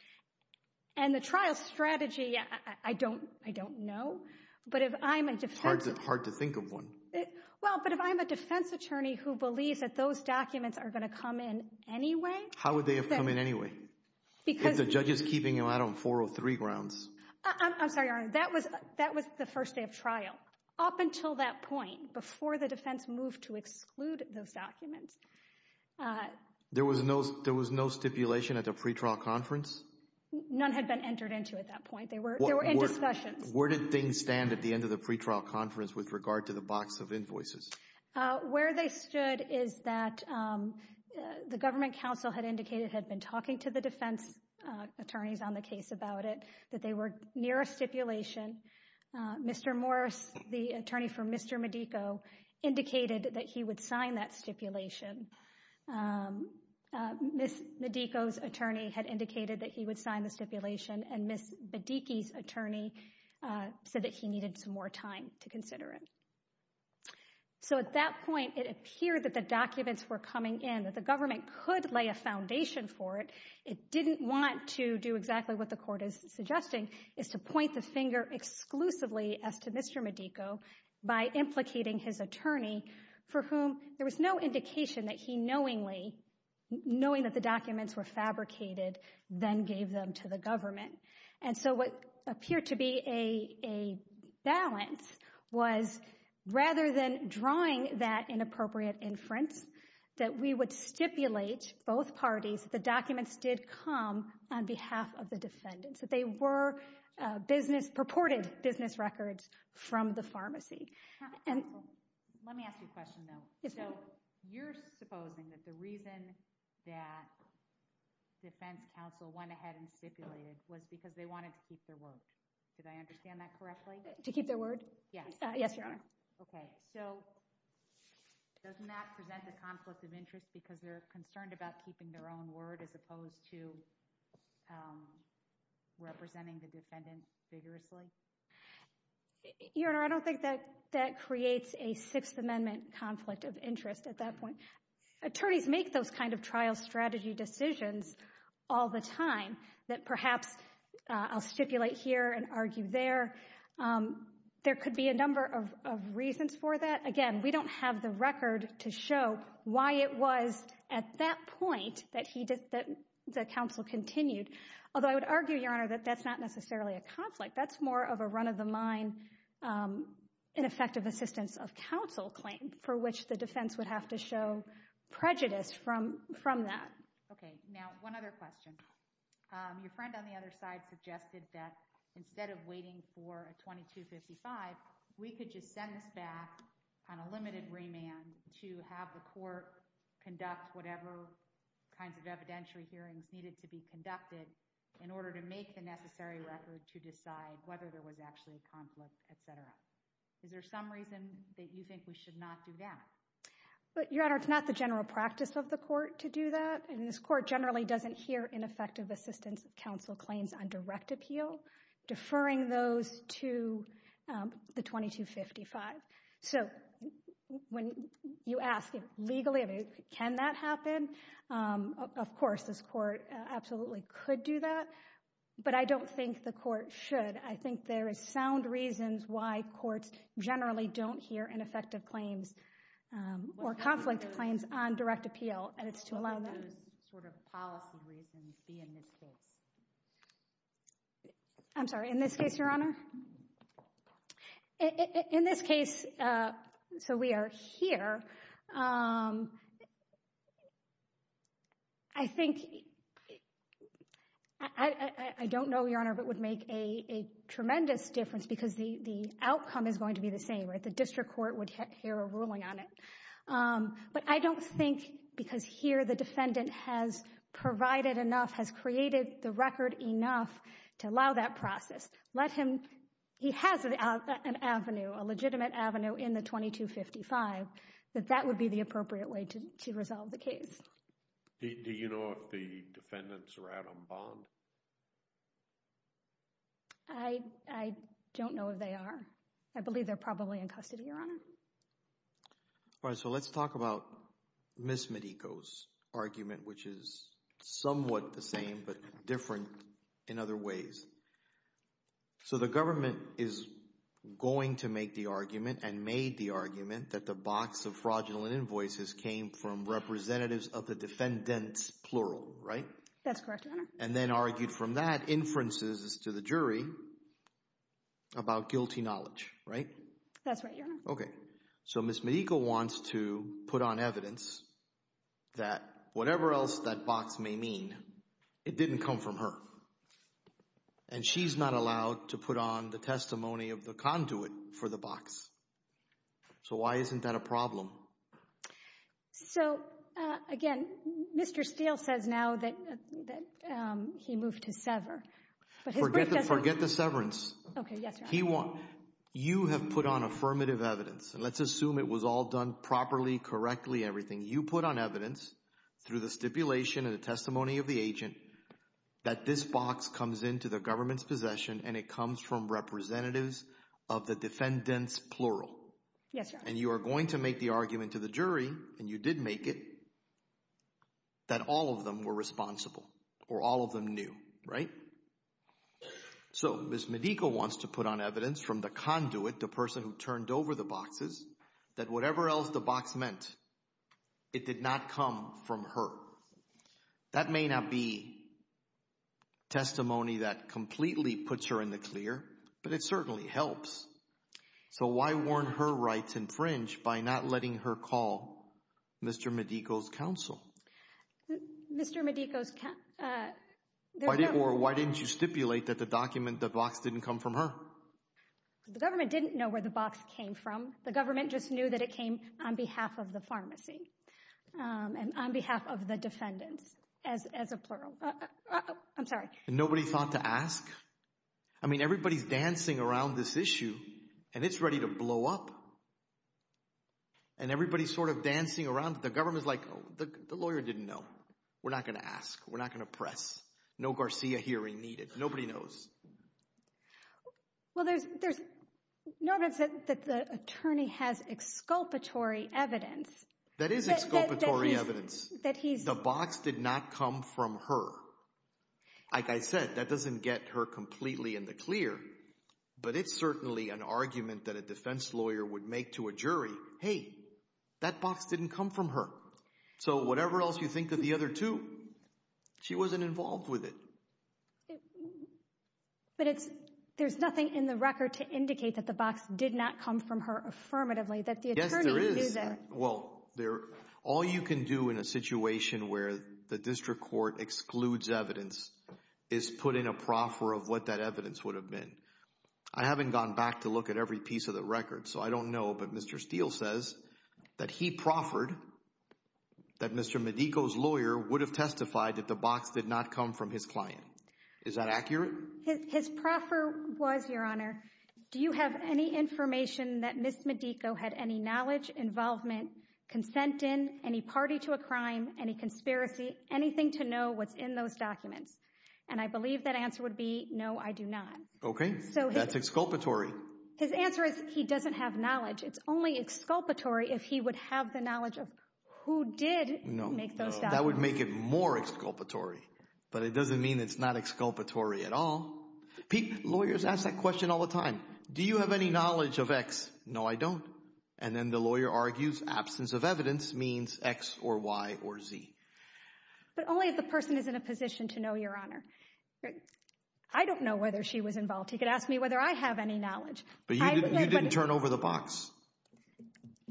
and the trial strategy, I don't know, but if I'm a defense attorney who believes that those documents are going to come in anyway. How would they have come in anyway? Because the judge is up until that point, before the defense moved to exclude those documents. There was no stipulation at the pre-trial conference? None had been entered into at that point. They were in discussion. Where did things stand at the end of the pre-trial conference with regard to the box of invoices? Where they stood is that the government counsel had indicated, had been talking to the defense attorneys on the case about it, that they were near a stipulation. Mr. Morris, the attorney for Mr. Medico, indicated that he would sign that stipulation. Ms. Medico's attorney had indicated that he would sign the stipulation, and Ms. Bedicki's attorney said that he needed some more time to consider it. So at that point, it appeared that the documents were coming in, that the government could lay a stipulation, and that the documents were coming in, and that the government could lay a stipulation. And so what happened was that the defense attorney, not to do exactly what the court is suggesting, is to point the finger exclusively as to Mr. Medico by implicating his attorney, for whom there was no indication that he knowingly, knowing that the documents were fabricated, then gave them to the government. And so what appeared to be a balance was, rather than drawing that inappropriate inference, that we would stipulate, both parties, the documents did come on behalf of the defendant. So they were business, purported business records from the pharmacy. Let me ask you a question though. So you're supposing that the reason that defense counsel went ahead and stipulated was because they wanted to keep their word. Did I understand that correctly? To keep their word? Yeah. Yes, Your Honor. Okay. So doesn't that present a conflict of interest because they're concerned about keeping their own word as opposed to representing the defendant figuratively? Your Honor, I don't think that creates a Sixth Amendment conflict of interest at that point. Attorneys make those kinds of trial strategy decisions all the time that perhaps I'll stipulate here and argue there. There could be a number of reasons for that. Again, we don't have the record to show why it was at that point that the counsel continued. Although I would argue, Your Honor, that that's not of counsel claims for which the defense would have to show prejudice from that. Okay. Now, one other question. Your friend on the other side suggested that instead of waiting for a 2255, we could just send this back on a limited remand to have the court conduct whatever kinds of evidentiary hearings needed to be conducted in order to make the necessary record to decide whether there was actually a conflict, etc. Is there some reason that you think we should not do that? But Your Honor, it's not the general practice of the court to do that. And this court generally doesn't hear ineffective assistance counsel claims on direct appeal, deferring those to the 2255. So when you ask legally, can that happen? Of course, this court absolutely could do that. But I don't think the court should. I think there are sound reasons why courts generally don't hear ineffective claims or conflict claims on direct appeal. I'm sorry. In this case, Your Honor? In this case, so we are here. I think, I don't know, Your Honor, if it would make a tremendous difference because the outcome is going to be the same, right? The district court would hear a ruling on it. But I don't think because here the defendant has provided enough, has created the record enough to allow that process, let him, he has an avenue, a legitimate avenue in the 2255, that that would be the appropriate way to resolve the case. Do you know if the defendants are Adam Bond? I don't know if they are. I believe they're probably in custody, Your Honor. All right. So let's talk about Ms. Medico's argument, which is somewhat the same but different in other ways. So the government is going to make the argument and made the argument that the box of fraudulent invoices came from representatives of the defendants, plural, right? That's correct, Your Honor. And then argued from that inferences to the jury about guilty knowledge, right? That's right, Your Honor. Okay. So Ms. Medico wants to come from her. And she's not allowed to put on the testimony of the conduit for the box. So why isn't that a problem? So again, Mr. Steele says now that he moved to sever. Forget the severance. Okay, yes, Your Honor. He won't. You have put on affirmative evidence, and let's assume it was all done properly, correctly, everything. You put on evidence through the stipulation and the testimony of the agent that this box comes into the government's possession, and it comes from representatives of the defendants, plural. And you are going to make the argument to the jury, and you did make it, that all of them were responsible, or all of them knew, right? So Ms. Medico wants to put on evidence from the conduit, the person who turned over the boxes, that whatever else the from her. That may not be testimony that completely puts her in the clear, but it certainly helps. So why warn her rights infringe by not letting her call Mr. Medico's counsel? Mr. Medico's counsel. Or why didn't you stipulate that the document, the box didn't come from her? The government didn't know where the box came from. The government just knew that it came on behalf of the pharmacy, and on behalf of the defendant, as a plural. I'm sorry. Nobody thought to ask? I mean, everybody's dancing around this issue, and it's ready to blow up. And everybody's sort of dancing around. The government's like, the lawyer didn't know. We're not going to ask. We're not going to press. No Garcia hearing needed. Nobody knows. Well, there's, notice that the attorney has exculpatory evidence. That is exculpatory evidence. The box did not come from her. Like I said, that doesn't get her completely in the clear, but it's certainly an argument that a defense lawyer would make to a jury. Hey, that box didn't come from her. So whatever else you think of the other two, she wasn't involved with it. But there's nothing in the record to indicate that the box did not come from her affirmatively, that the attorney knew that. Well, all you can do in a situation where the district court excludes evidence is put in a proffer of what that evidence would have been. I haven't gone back to look at every piece of the record, so I don't know. But Mr. Steele says that he proffered that Mr. Medico's lawyer would have testified that the box did not come from his client. Is that accurate? His proffer was your honor. Do you have any information that Ms. Medico had any knowledge, involvement, consent in any party to a crime, any conspiracy, anything to know what's in those documents? And I believe that answer would be no, I do not. Okay, that's exculpatory. His answer is he doesn't have knowledge. It's only exculpatory if he would have the knowledge of who did make those documents. No, that would make it more exculpatory. But it doesn't mean it's not exculpatory at all. Lawyers ask that question all the time. Do you have any knowledge of X? No, I don't. And then the lawyer argues absence of evidence means X or Y or Z. But only if the person is in a position to know your honor. Okay. I don't know whether she was involved. You could ask me whether I have any knowledge. But you didn't turn over the box.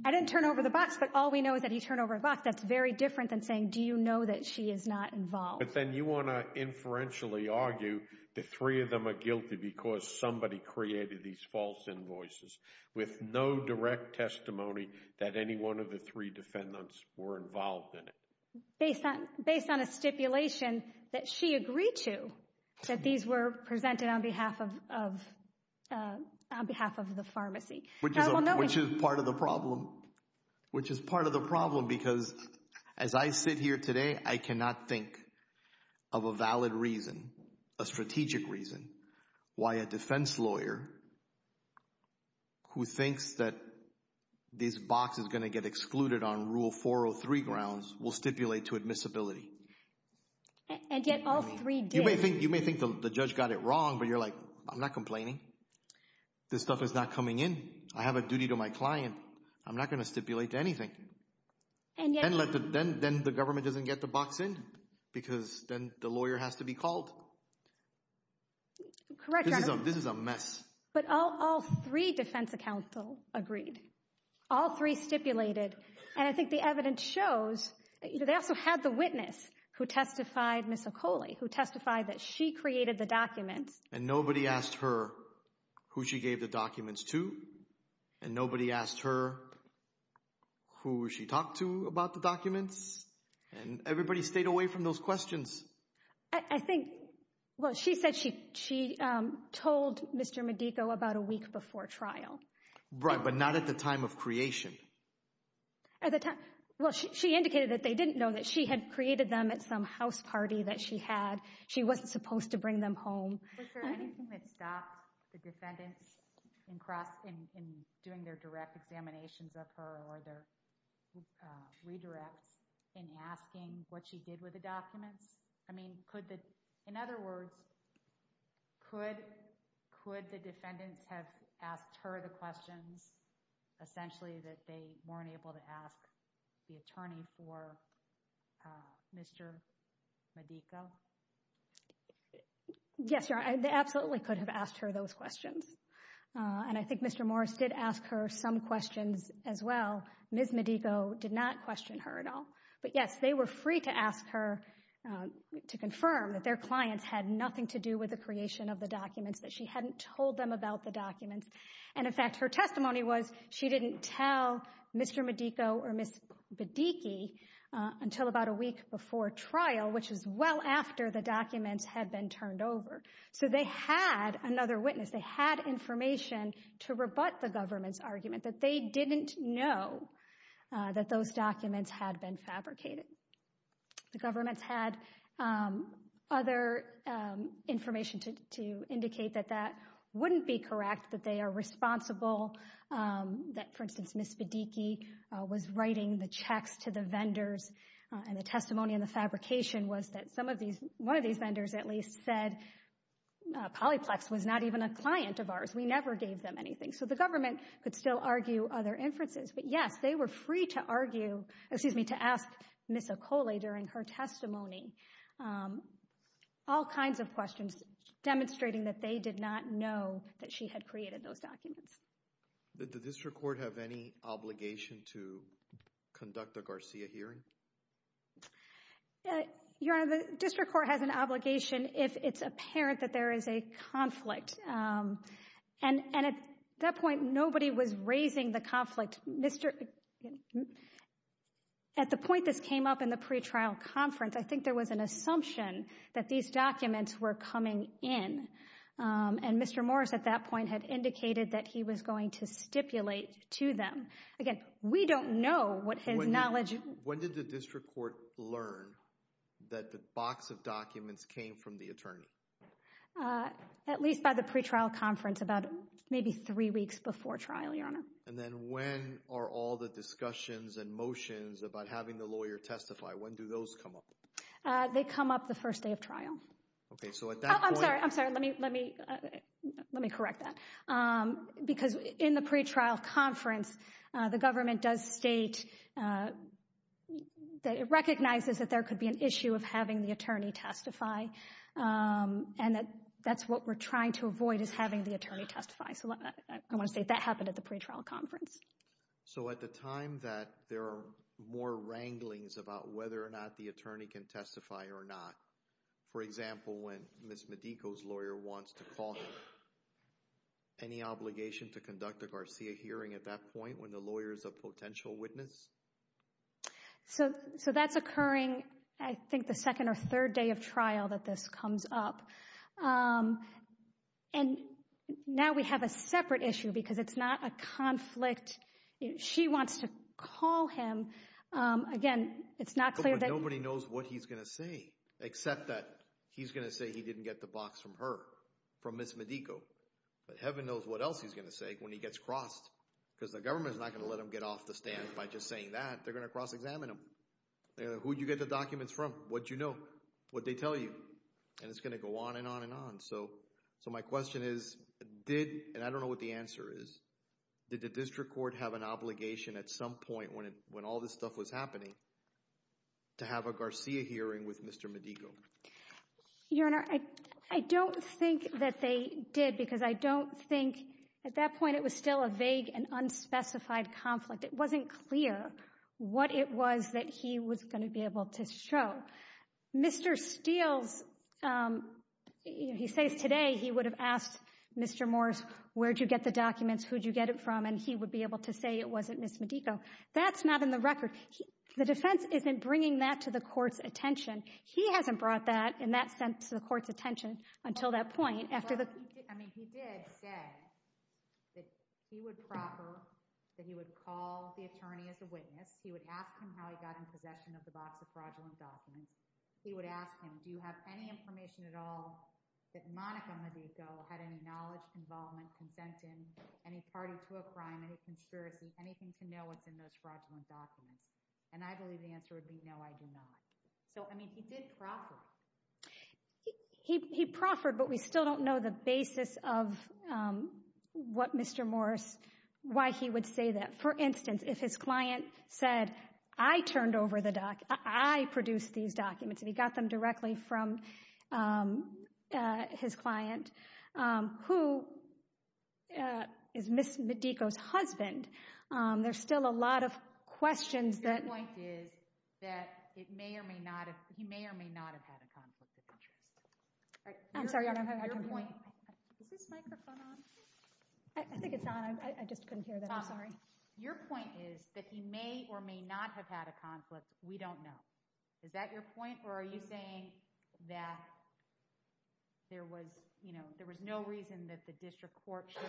I didn't turn over the box, but all we know is that he turned over a box. That's very different than saying, do you know that she is not involved? But then you want to inferentially argue that three of them are guilty because somebody created these false invoices with no direct testimony that any one of the three defendants were involved in based on a stipulation that she agreed to, that these were presented on behalf of the pharmacy. Which is part of the problem. Which is part of the problem because as I sit here today, I cannot think of a valid reason, a strategic reason why a defense lawyer who thinks that this box is going to get excluded on rule 403 grounds will stipulate to admissibility. And yet all three did. You may think the judge got it wrong, but you're like, I'm not complaining. This stuff is not coming in. I have a duty to my client. I'm not going to stipulate to anything. Then the government doesn't get the box in because then the lawyer has to be called. Correct. This is a mess. But all three defense counsel agreed. All three stipulated. And I think the evidence shows that they also had the witness who testified, Ms. Okole, who testified that she created the document. And nobody asked her who she gave the documents to. And nobody asked her who she talked to about the documents. And everybody stayed away from those questions. I think, well, she said she told Mr. Medico about a week before trial. Right. But not at the time of creation. Well, she indicated that they didn't know that she had created them at some house party that she had. She wasn't supposed to bring them home. Was there anything that stopped the defendant in doing their direct examinations of her or their in asking what she did with the document? I mean, could that, in other words, could the defendant have asked her the question, essentially, that they weren't able to ask the attorney for Mr. Medico? Yes, sir. I absolutely could have asked her those questions. And I think Mr. Morris did ask her some questions as well. Ms. Medico did not question her at all. But yes, they were free to ask her to confirm that their clients had nothing to do with the creation of the documents, that she hadn't told them about the documents. And in fact, her testimony was she didn't tell Mr. Medico or Ms. Bedicki until about a week before trial, which is well after the documents had been turned over. So they had another witness. They had information to rebut the government's that those documents had been fabricated. The government's had other information to indicate that that wouldn't be correct, that they are responsible, that, for instance, Ms. Bedicki was writing the checks to the vendors. And the testimony in the fabrication was that some of these, one of these vendors at least, said Polyplex was not even a client of ours. We never gave them anything. So the government could still argue other inferences. But yes, they were free to argue, excuse me, to ask Ms. Acola during her testimony, all kinds of questions demonstrating that they did not know that she had created those documents. Did the district court have any obligation to conduct a Garcia hearing? Your Honor, the district court has an obligation if it's apparent that there is a conflict. And at that point, nobody was raising the conflict. At the point this came up in the pretrial conference, I think there was an assumption that these documents were coming in. And Mr. Morris, at that point, had indicated that he was going to stipulate to them. Again, we don't know what's his knowledge. When did the district court learn that the box of documents came from the attorney? At least by the pretrial conference, about maybe three weeks before trial, Your Honor. And then when are all the discussions and motions about having the lawyer testify? When do those come up? They come up the first day of trial. Okay, so at that point... I'm sorry, I'm sorry, let me correct that. Because in the pretrial conference, the government does state, it recognizes that there could be an issue of having the attorney testify. And that's what we're trying to avoid is having the attorney testify. I want to say that happened at the pretrial conference. So at the time that there are more wranglings about whether or not the attorney can testify or not, for example, when Ms. Medico's lawyer wants to call her, any obligation to conduct a Garcia hearing at that point when the lawyer is a potential witness? So that's occurring, I think, the second or third day of trial that this comes up. And now we have a separate issue because it's not a conflict. She wants to call him. Again, it's not clear that... Nobody knows what he's going to say, except that he's going to say he didn't get the box from her, from Ms. Medico. Heaven knows what else he's going to say when he gets crossed because the government is not going to let him get off the stand by just saying that. They're going to cross-examine him. Who did you get the documents from? What do you know? What did they tell you? And it's going to go on and on and on. So my question is, did... And I don't know what the answer is. Did the district court have an obligation at some point when all this stuff was happening to have a Garcia hearing with Mr. Medico? Your Honor, I don't think that they did because I don't think... At that point, it was still a vague and unspecified conflict. It wasn't clear what it was that he was going to be able to show. Mr. Steele, he says today he would have asked Mr. Morris, where'd you get the documents? Who'd you get it from? And he would be able to say it wasn't Ms. Medico. That's not in the record. The defense isn't bringing that to the court's attention. He hasn't brought that, in that sense, to the court's attention. He did say that he would proffer, that he would call the attorney as a witness. He would ask him how he got in possession of the box of fraudulent documents. He would ask him, do you have any information at all that Monica Medico had any knowledge, involvement, consent in, any party to a crime, any conspiracies, anything to know within those fraudulent documents? And I believe the answer would be no, I do not. So, I mean, he did proffer. He proffered, but we still don't know the basis of what Mr. Morris, why he would say that. For instance, if his client said, I turned over the documents, I produced these documents, and he got them directly from his client, who is Ms. Medico's husband, there's still a lot of conflict. Your point is that he may or may not have had a conflict, we don't know. Is that your point? Or are you saying that there was, you know, there was no reason that the district court should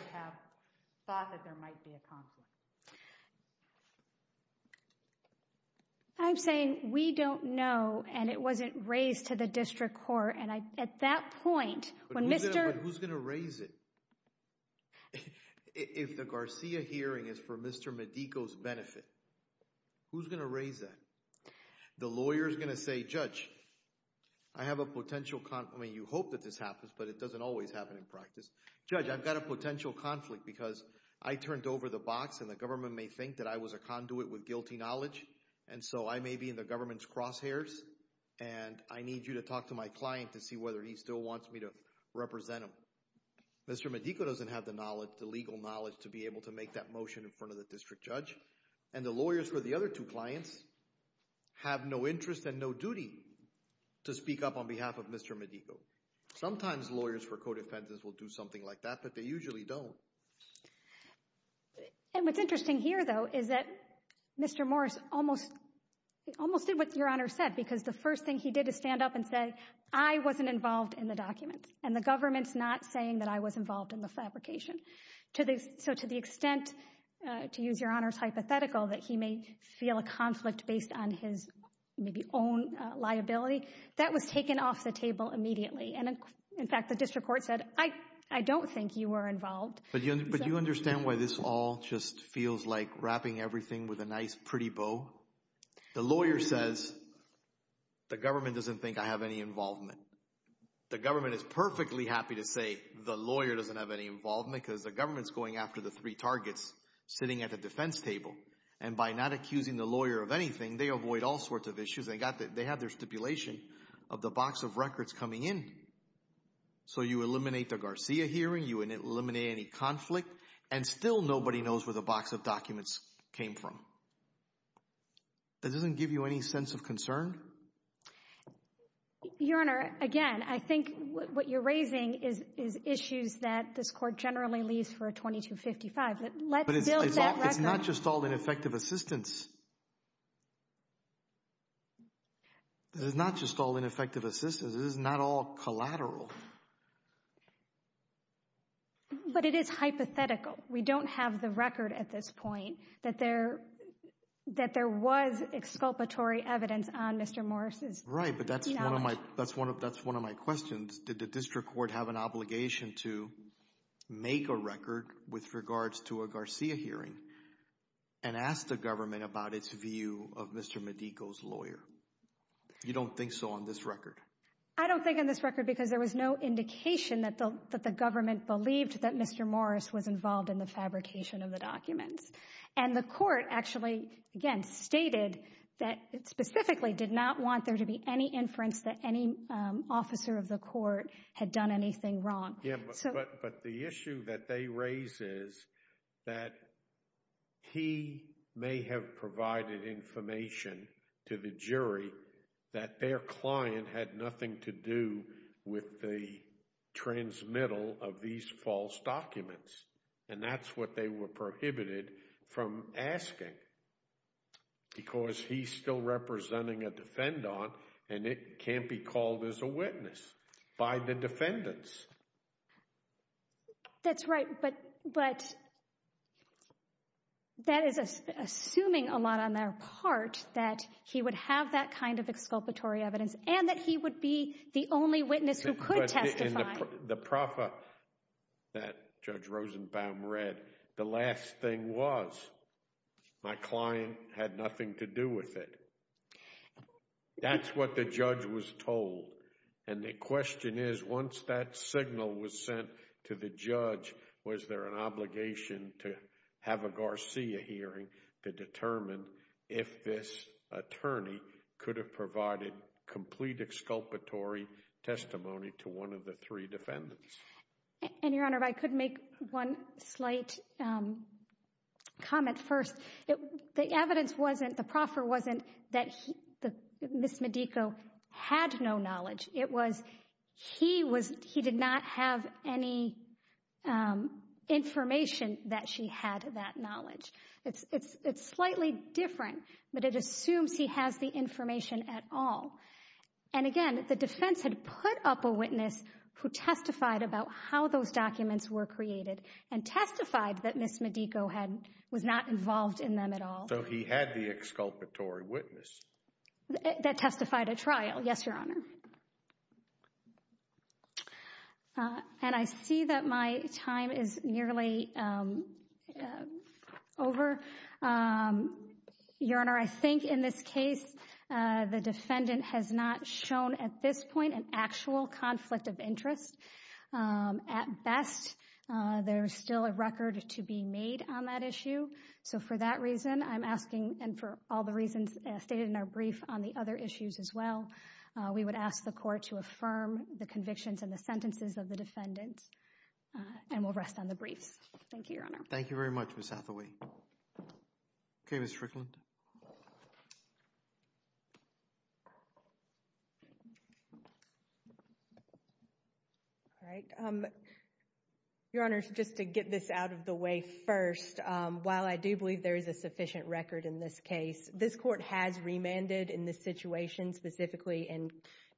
And at that point, when Mr. Who's going to raise it? If the Garcia hearing is for Mr. Medico's benefit, who's going to raise that? The lawyer is going to say, Judge, I have a potential conflict. You hope that this happens, but it doesn't always happen in practice. Judge, I've got a potential conflict because I turned over the box and the government may think that I was a conduit with guilty knowledge. And so I may be in the government's client to see whether he still wants me to represent him. Mr. Medico doesn't have the knowledge, the legal knowledge to be able to make that motion in front of the district judge. And the lawyers for the other two clients have no interest and no duty to speak up on behalf of Mr. Medico. Sometimes lawyers for co-defensives will do something like that, but they usually don't. And what's interesting here, though, is that Mr. Morris almost, almost did what Your Honor said, because the first thing he did is stand up and say, I wasn't involved in the document. And the government's not saying that I was involved in the fabrication. So to the extent, to use Your Honor's hypothetical, that he may feel a conflict based on his own liability, that was taken off the table immediately. And in fact, the district court said, I don't think you were involved. But do you understand why this all just feels like wrapping everything with a nice pretty bow? The lawyer says, the government doesn't think I have any involvement. The government is perfectly happy to say the lawyer doesn't have any involvement because the government's going after the three targets sitting at the defense table. And by not accusing the lawyer of anything, they avoid all sorts of issues. They have their stipulation of the box of records coming in. So you eliminate the Garcia hearing, you eliminate any conflict, and still nobody knows where the box of documents came from. It doesn't give you any sense of concern? Your Honor, again, I think what you're raising is issues that this court generally leaves for a 2255. But let's build that record. But it's not just all ineffective assistance. It's not just all ineffective assistance. It is not all collateral. But it is hypothetical. We don't have the record at this point that there was exculpatory evidence on Mr. Morris's. Right, but that's one of my questions. Did the district court have an obligation to make a record with regards to a Garcia hearing and ask the government about its view of Mr. Medico's lawyer? You don't think so on this record? I don't think on this record. There's no indication that the government believed that Mr. Morris was involved in the fabrication of the document. And the court actually, again, stated that it specifically did not want there to be any inference that any officer of the court had done anything wrong. But the issue that they raise is that he may have provided information to the jury that their client had nothing to do with the transmittal of these false documents. And that's what they were prohibited from asking. Because he's still representing a defendant, and it can't be called as a witness by the defendants. That's right. But that is assuming a lot on their part that he would have that kind of exculpatory evidence, and that he would be the only witness who could testify. In the profit that Judge Rosenbaum read, the last thing was, my client had nothing to do with it. That's what the judge was told. And the question is, once that signal was sent to the judge, was there an obligation to have a Garcia hearing to determine if this attorney could have provided complete exculpatory testimony to one of the three defendants? And Your Honor, I could make one slight comment first. The evidence proffer wasn't that Ms. Medico had no knowledge. It was he did not have any information that she had that knowledge. It's slightly different, but it assumes he has the information at all. And again, the defense had put up a witness who testified about how those documents were created, and testified that Ms. Medico was not involved in them at all. So he had the exculpatory witness. That testified at trial. Yes, Your Honor. And I see that my time is nearly over. Your Honor, I think in this case, the defendant has not shown at this point an actual conflict of interest. At best, there's still a record to be made on that issue. So for that reason, I'm asking, and for all the reasons stated in our brief on the other issues as well, we would ask the court to affirm the convictions and the sentences of the defendant. And we'll rest on the brief. Thank you, Your Honor. Thank you very much, Ms. Hathaway. Okay, Ms. Strickland. All right. Your Honor, just to get this out of the way first, while I do believe there's a sufficient record in this case, this court has remanded in this situation, specifically in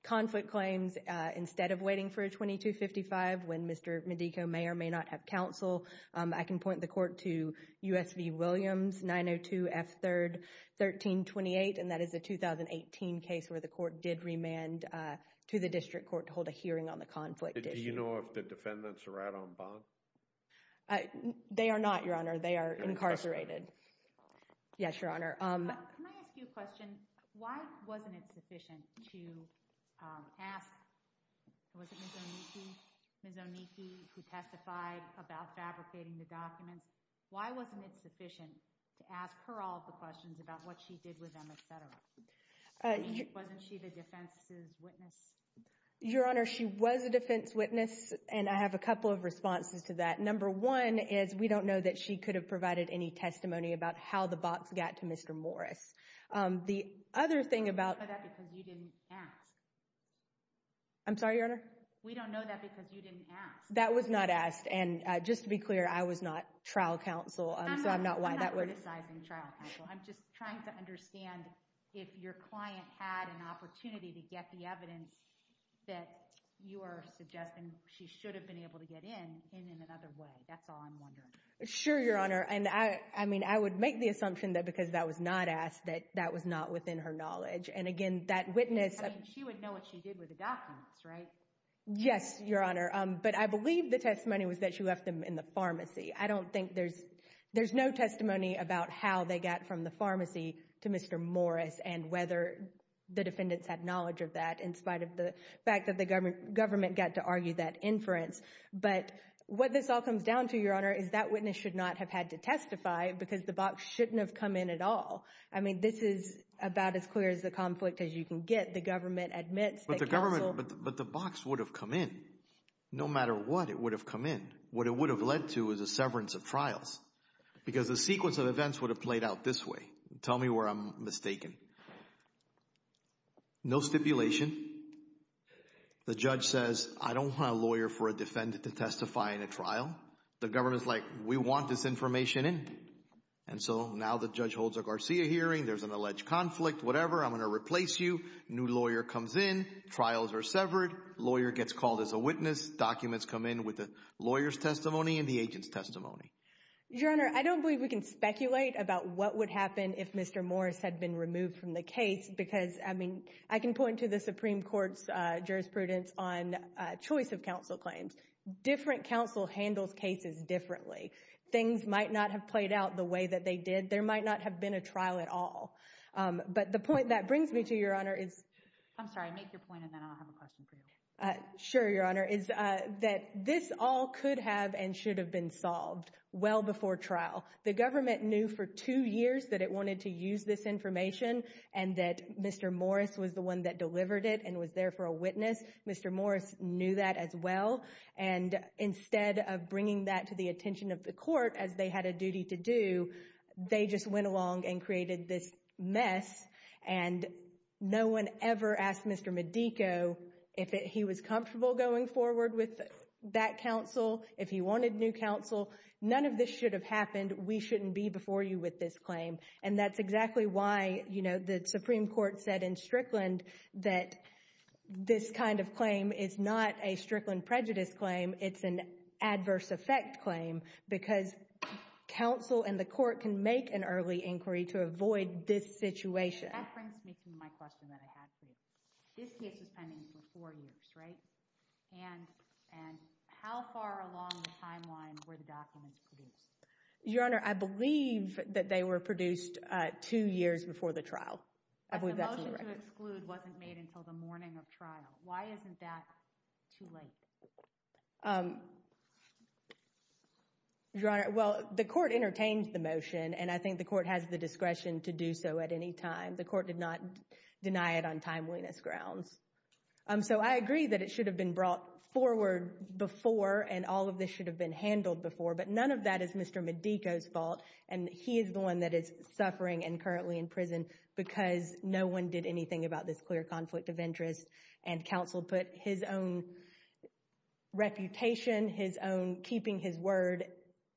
conflict claims, instead of waiting for a 2255 when Mr. Medico may or may not have counsel. I can point the court to U.S. v. Williams, 902 F. 3rd 1328, and that is a 2018 case where the court did remand to the district court to hold a hearing on the conflict. Do you know if the defendants are out on bond? They are not, Your Honor. They are incarcerated. Yes, Your Honor. Can I ask you a question? Why wasn't it sufficient to ask Ms. Onishi who testified about fabricating the documents, why wasn't it sufficient to ask her all the questions about what she did with them, etc.? Wasn't she the defense's witness? Your Honor, she was a defense witness, and I have a couple of responses to that. Number one is we don't know that she could have provided any testimony about how the box got to Mr. Morris. The other thing about... We don't know that because you didn't ask. I'm sorry, Your Honor? We don't know that because you didn't ask. That was not asked, and just to be clear, I was not trial counsel, so I'm not why that was... I'm not criticizing trial counsel. I'm just trying to understand if your client had an opportunity to get the evidence that you are suggesting she should have been able to get in in another way. That's all I'm wondering. Sure, Your Honor, and I mean, I would make the assumption that because that was not asked that that was not within her knowledge, and again, that witness... I mean, she would know what she did with the documents, right? Yes, Your Honor, but I believe the testimony was that she left them in the pharmacy. I don't think there's... There's no testimony about how they got from the pharmacy to Mr. Morris and whether the defendants had knowledge of that in spite of the fact that the government got to argue that inference, but what this all comes down to, Your Honor, is that witness should not have had to testify because the box shouldn't have come in at all. I mean, this is about as clear as the conflict as you can get. The government admits that counsel... But the government... But the box would have come in. No matter what, it would have come in. What it would have led to is a severance of trials because the sequence of events would have played out this way. Tell me where I'm mistaken. No stipulation. The judge says, I don't want a lawyer for a defendant to testify in a trial. The government's like, we want this information in, and so now the judge holds a Garcia hearing. There's an alleged conflict, whatever. I'm going to replace you. New lawyer comes in. Trials are severed. Lawyer gets called as a witness. Documents come in with the lawyer's testimony and the agent's testimony. Your Honor, I don't believe we can speculate about what would happen if Mr. Morris had been removed from the case because, I mean, I can point to the Supreme Court's jurisprudence on choice of cases differently. Things might not have played out the way that they did. There might not have been a trial at all. But the point that brings me to, Your Honor, is... I'm sorry, make your point and then I'll have a question for you. Sure, Your Honor, is that this all could have and should have been solved well before trial. The government knew for two years that it wanted to use this information and that Mr. Morris was the one that delivered it and was there for a witness. Mr. Morris, instead of bringing that to the attention of the court, as they had a duty to do, they just went along and created this mess and no one ever asked Mr. Medico if he was comfortable going forward with that counsel, if he wanted new counsel. None of this should have happened. We shouldn't be before you with this claim. And that's exactly why, you know, the Supreme Court said in Strickland that this kind of claim is not a Strickland prejudice claim. It's an adverse effect claim because counsel and the court can make an early inquiry to avoid this situation. That brings me to my question that I have for you. This case was pending for four years, right? And how far along the timeline were the documents produced? Your Honor, I believe that they were produced two years before the trial. The motion to exclude wasn't made until the morning of trial. Why isn't that too late? Your Honor, well, the court entertains the motion and I think the court has the discretion to do so at any time. The court did not deny it on timeliness grounds. So I agree that it should have been brought forward before and all of this should have been handled before, but none of that is Mr. Medico's fault and he is the one that is suffering and currently in prison because no one did anything about this clear conflict of interest and counsel put his own reputation, his own keeping his word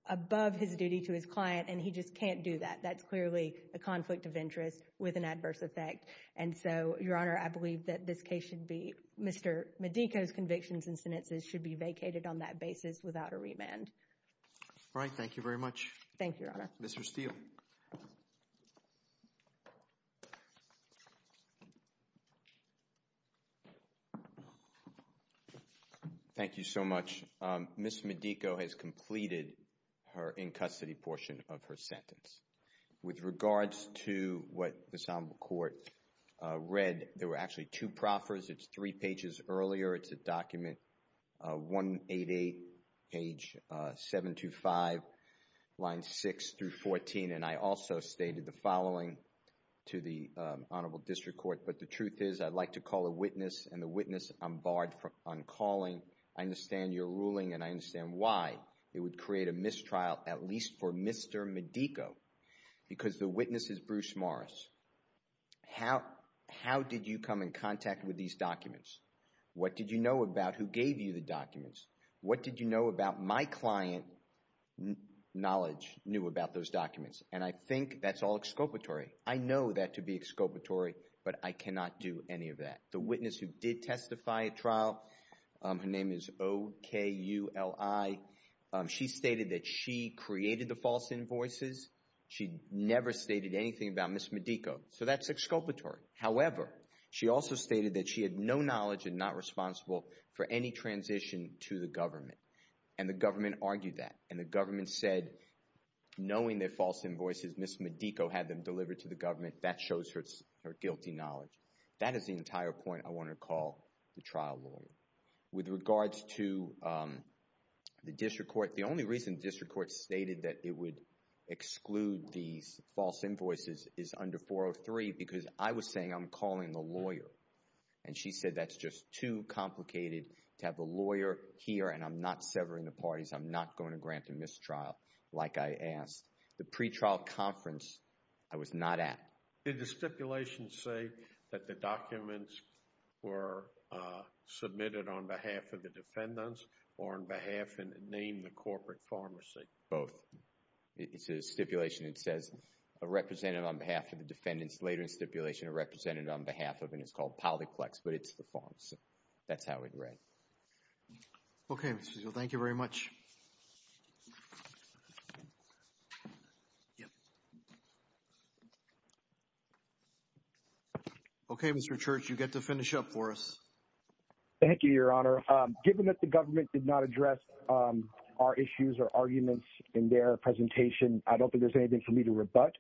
above his duty to his client and he just can't do that. That's clearly a conflict of interest with an adverse effect. And so, Your Honor, I believe that this case should be Mr. Medico's convictions and sentences should be vacated on that basis without a remand. All right, thank you very much. Thank you, Your Honor. Mr. Steele. Thank you so much. Ms. Medico has completed her in-custody portion of her sentence. With regards to what the Assemble Court read, there were actually two proffers. It's three pages earlier. It's a document 188, page 725, line 6 through 14. And I also stated the following to the Honorable District Court, but the truth is I'd like to call a witness and the witness on barred from calling. I understand your ruling and I understand why it would create a mistrial at least for Mr. Medico because the witness is Bruce Morris. How did you come in contact with these documents? What did you know about who gave you the documents? What did you know about my client knowledge knew about those documents? And I think that's all exculpatory. I know that to be exculpatory, but I cannot do any of that. The witness who did testify at trial, her name is O-K-U-L-I. She stated that she created the false invoices. She never stated anything about Ms. Medico. She had no knowledge and not responsible for any transition to the government. And the government argued that. And the government said, knowing that false invoices Ms. Medico had them delivered to the government, that shows her guilty knowledge. That is the entire point I want to call the trial lawyer. With regards to the District Court, the only reason District Court stated that it would exclude the false invoices is under 403 because I was saying I'm calling a lawyer. And she said, that's just too complicated to have a lawyer here and I'm not severing the parties. I'm not going to grant a mistrial like I asked. The pre-trial conference, I was not at. Did the stipulation say that the documents were submitted on behalf of the defendants or on behalf and name the corporate pharmacy? Both. It's a stipulation. It says a representative on behalf of the defendants. Later stipulation represented on behalf of and it's called polyplex, but it's the false. That's how it read. Okay. Thank you very much. Okay, Mr. Church, you get to finish up for us. Thank you, Your Honor. Given that the government did not address our issues or arguments in their presentation, I don't think there's anything for you to rebut.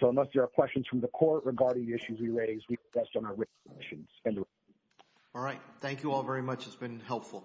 So unless there are questions from the court regarding the issues we raised, we've addressed on our written submissions. All right. Thank you all very much. It's been helpful.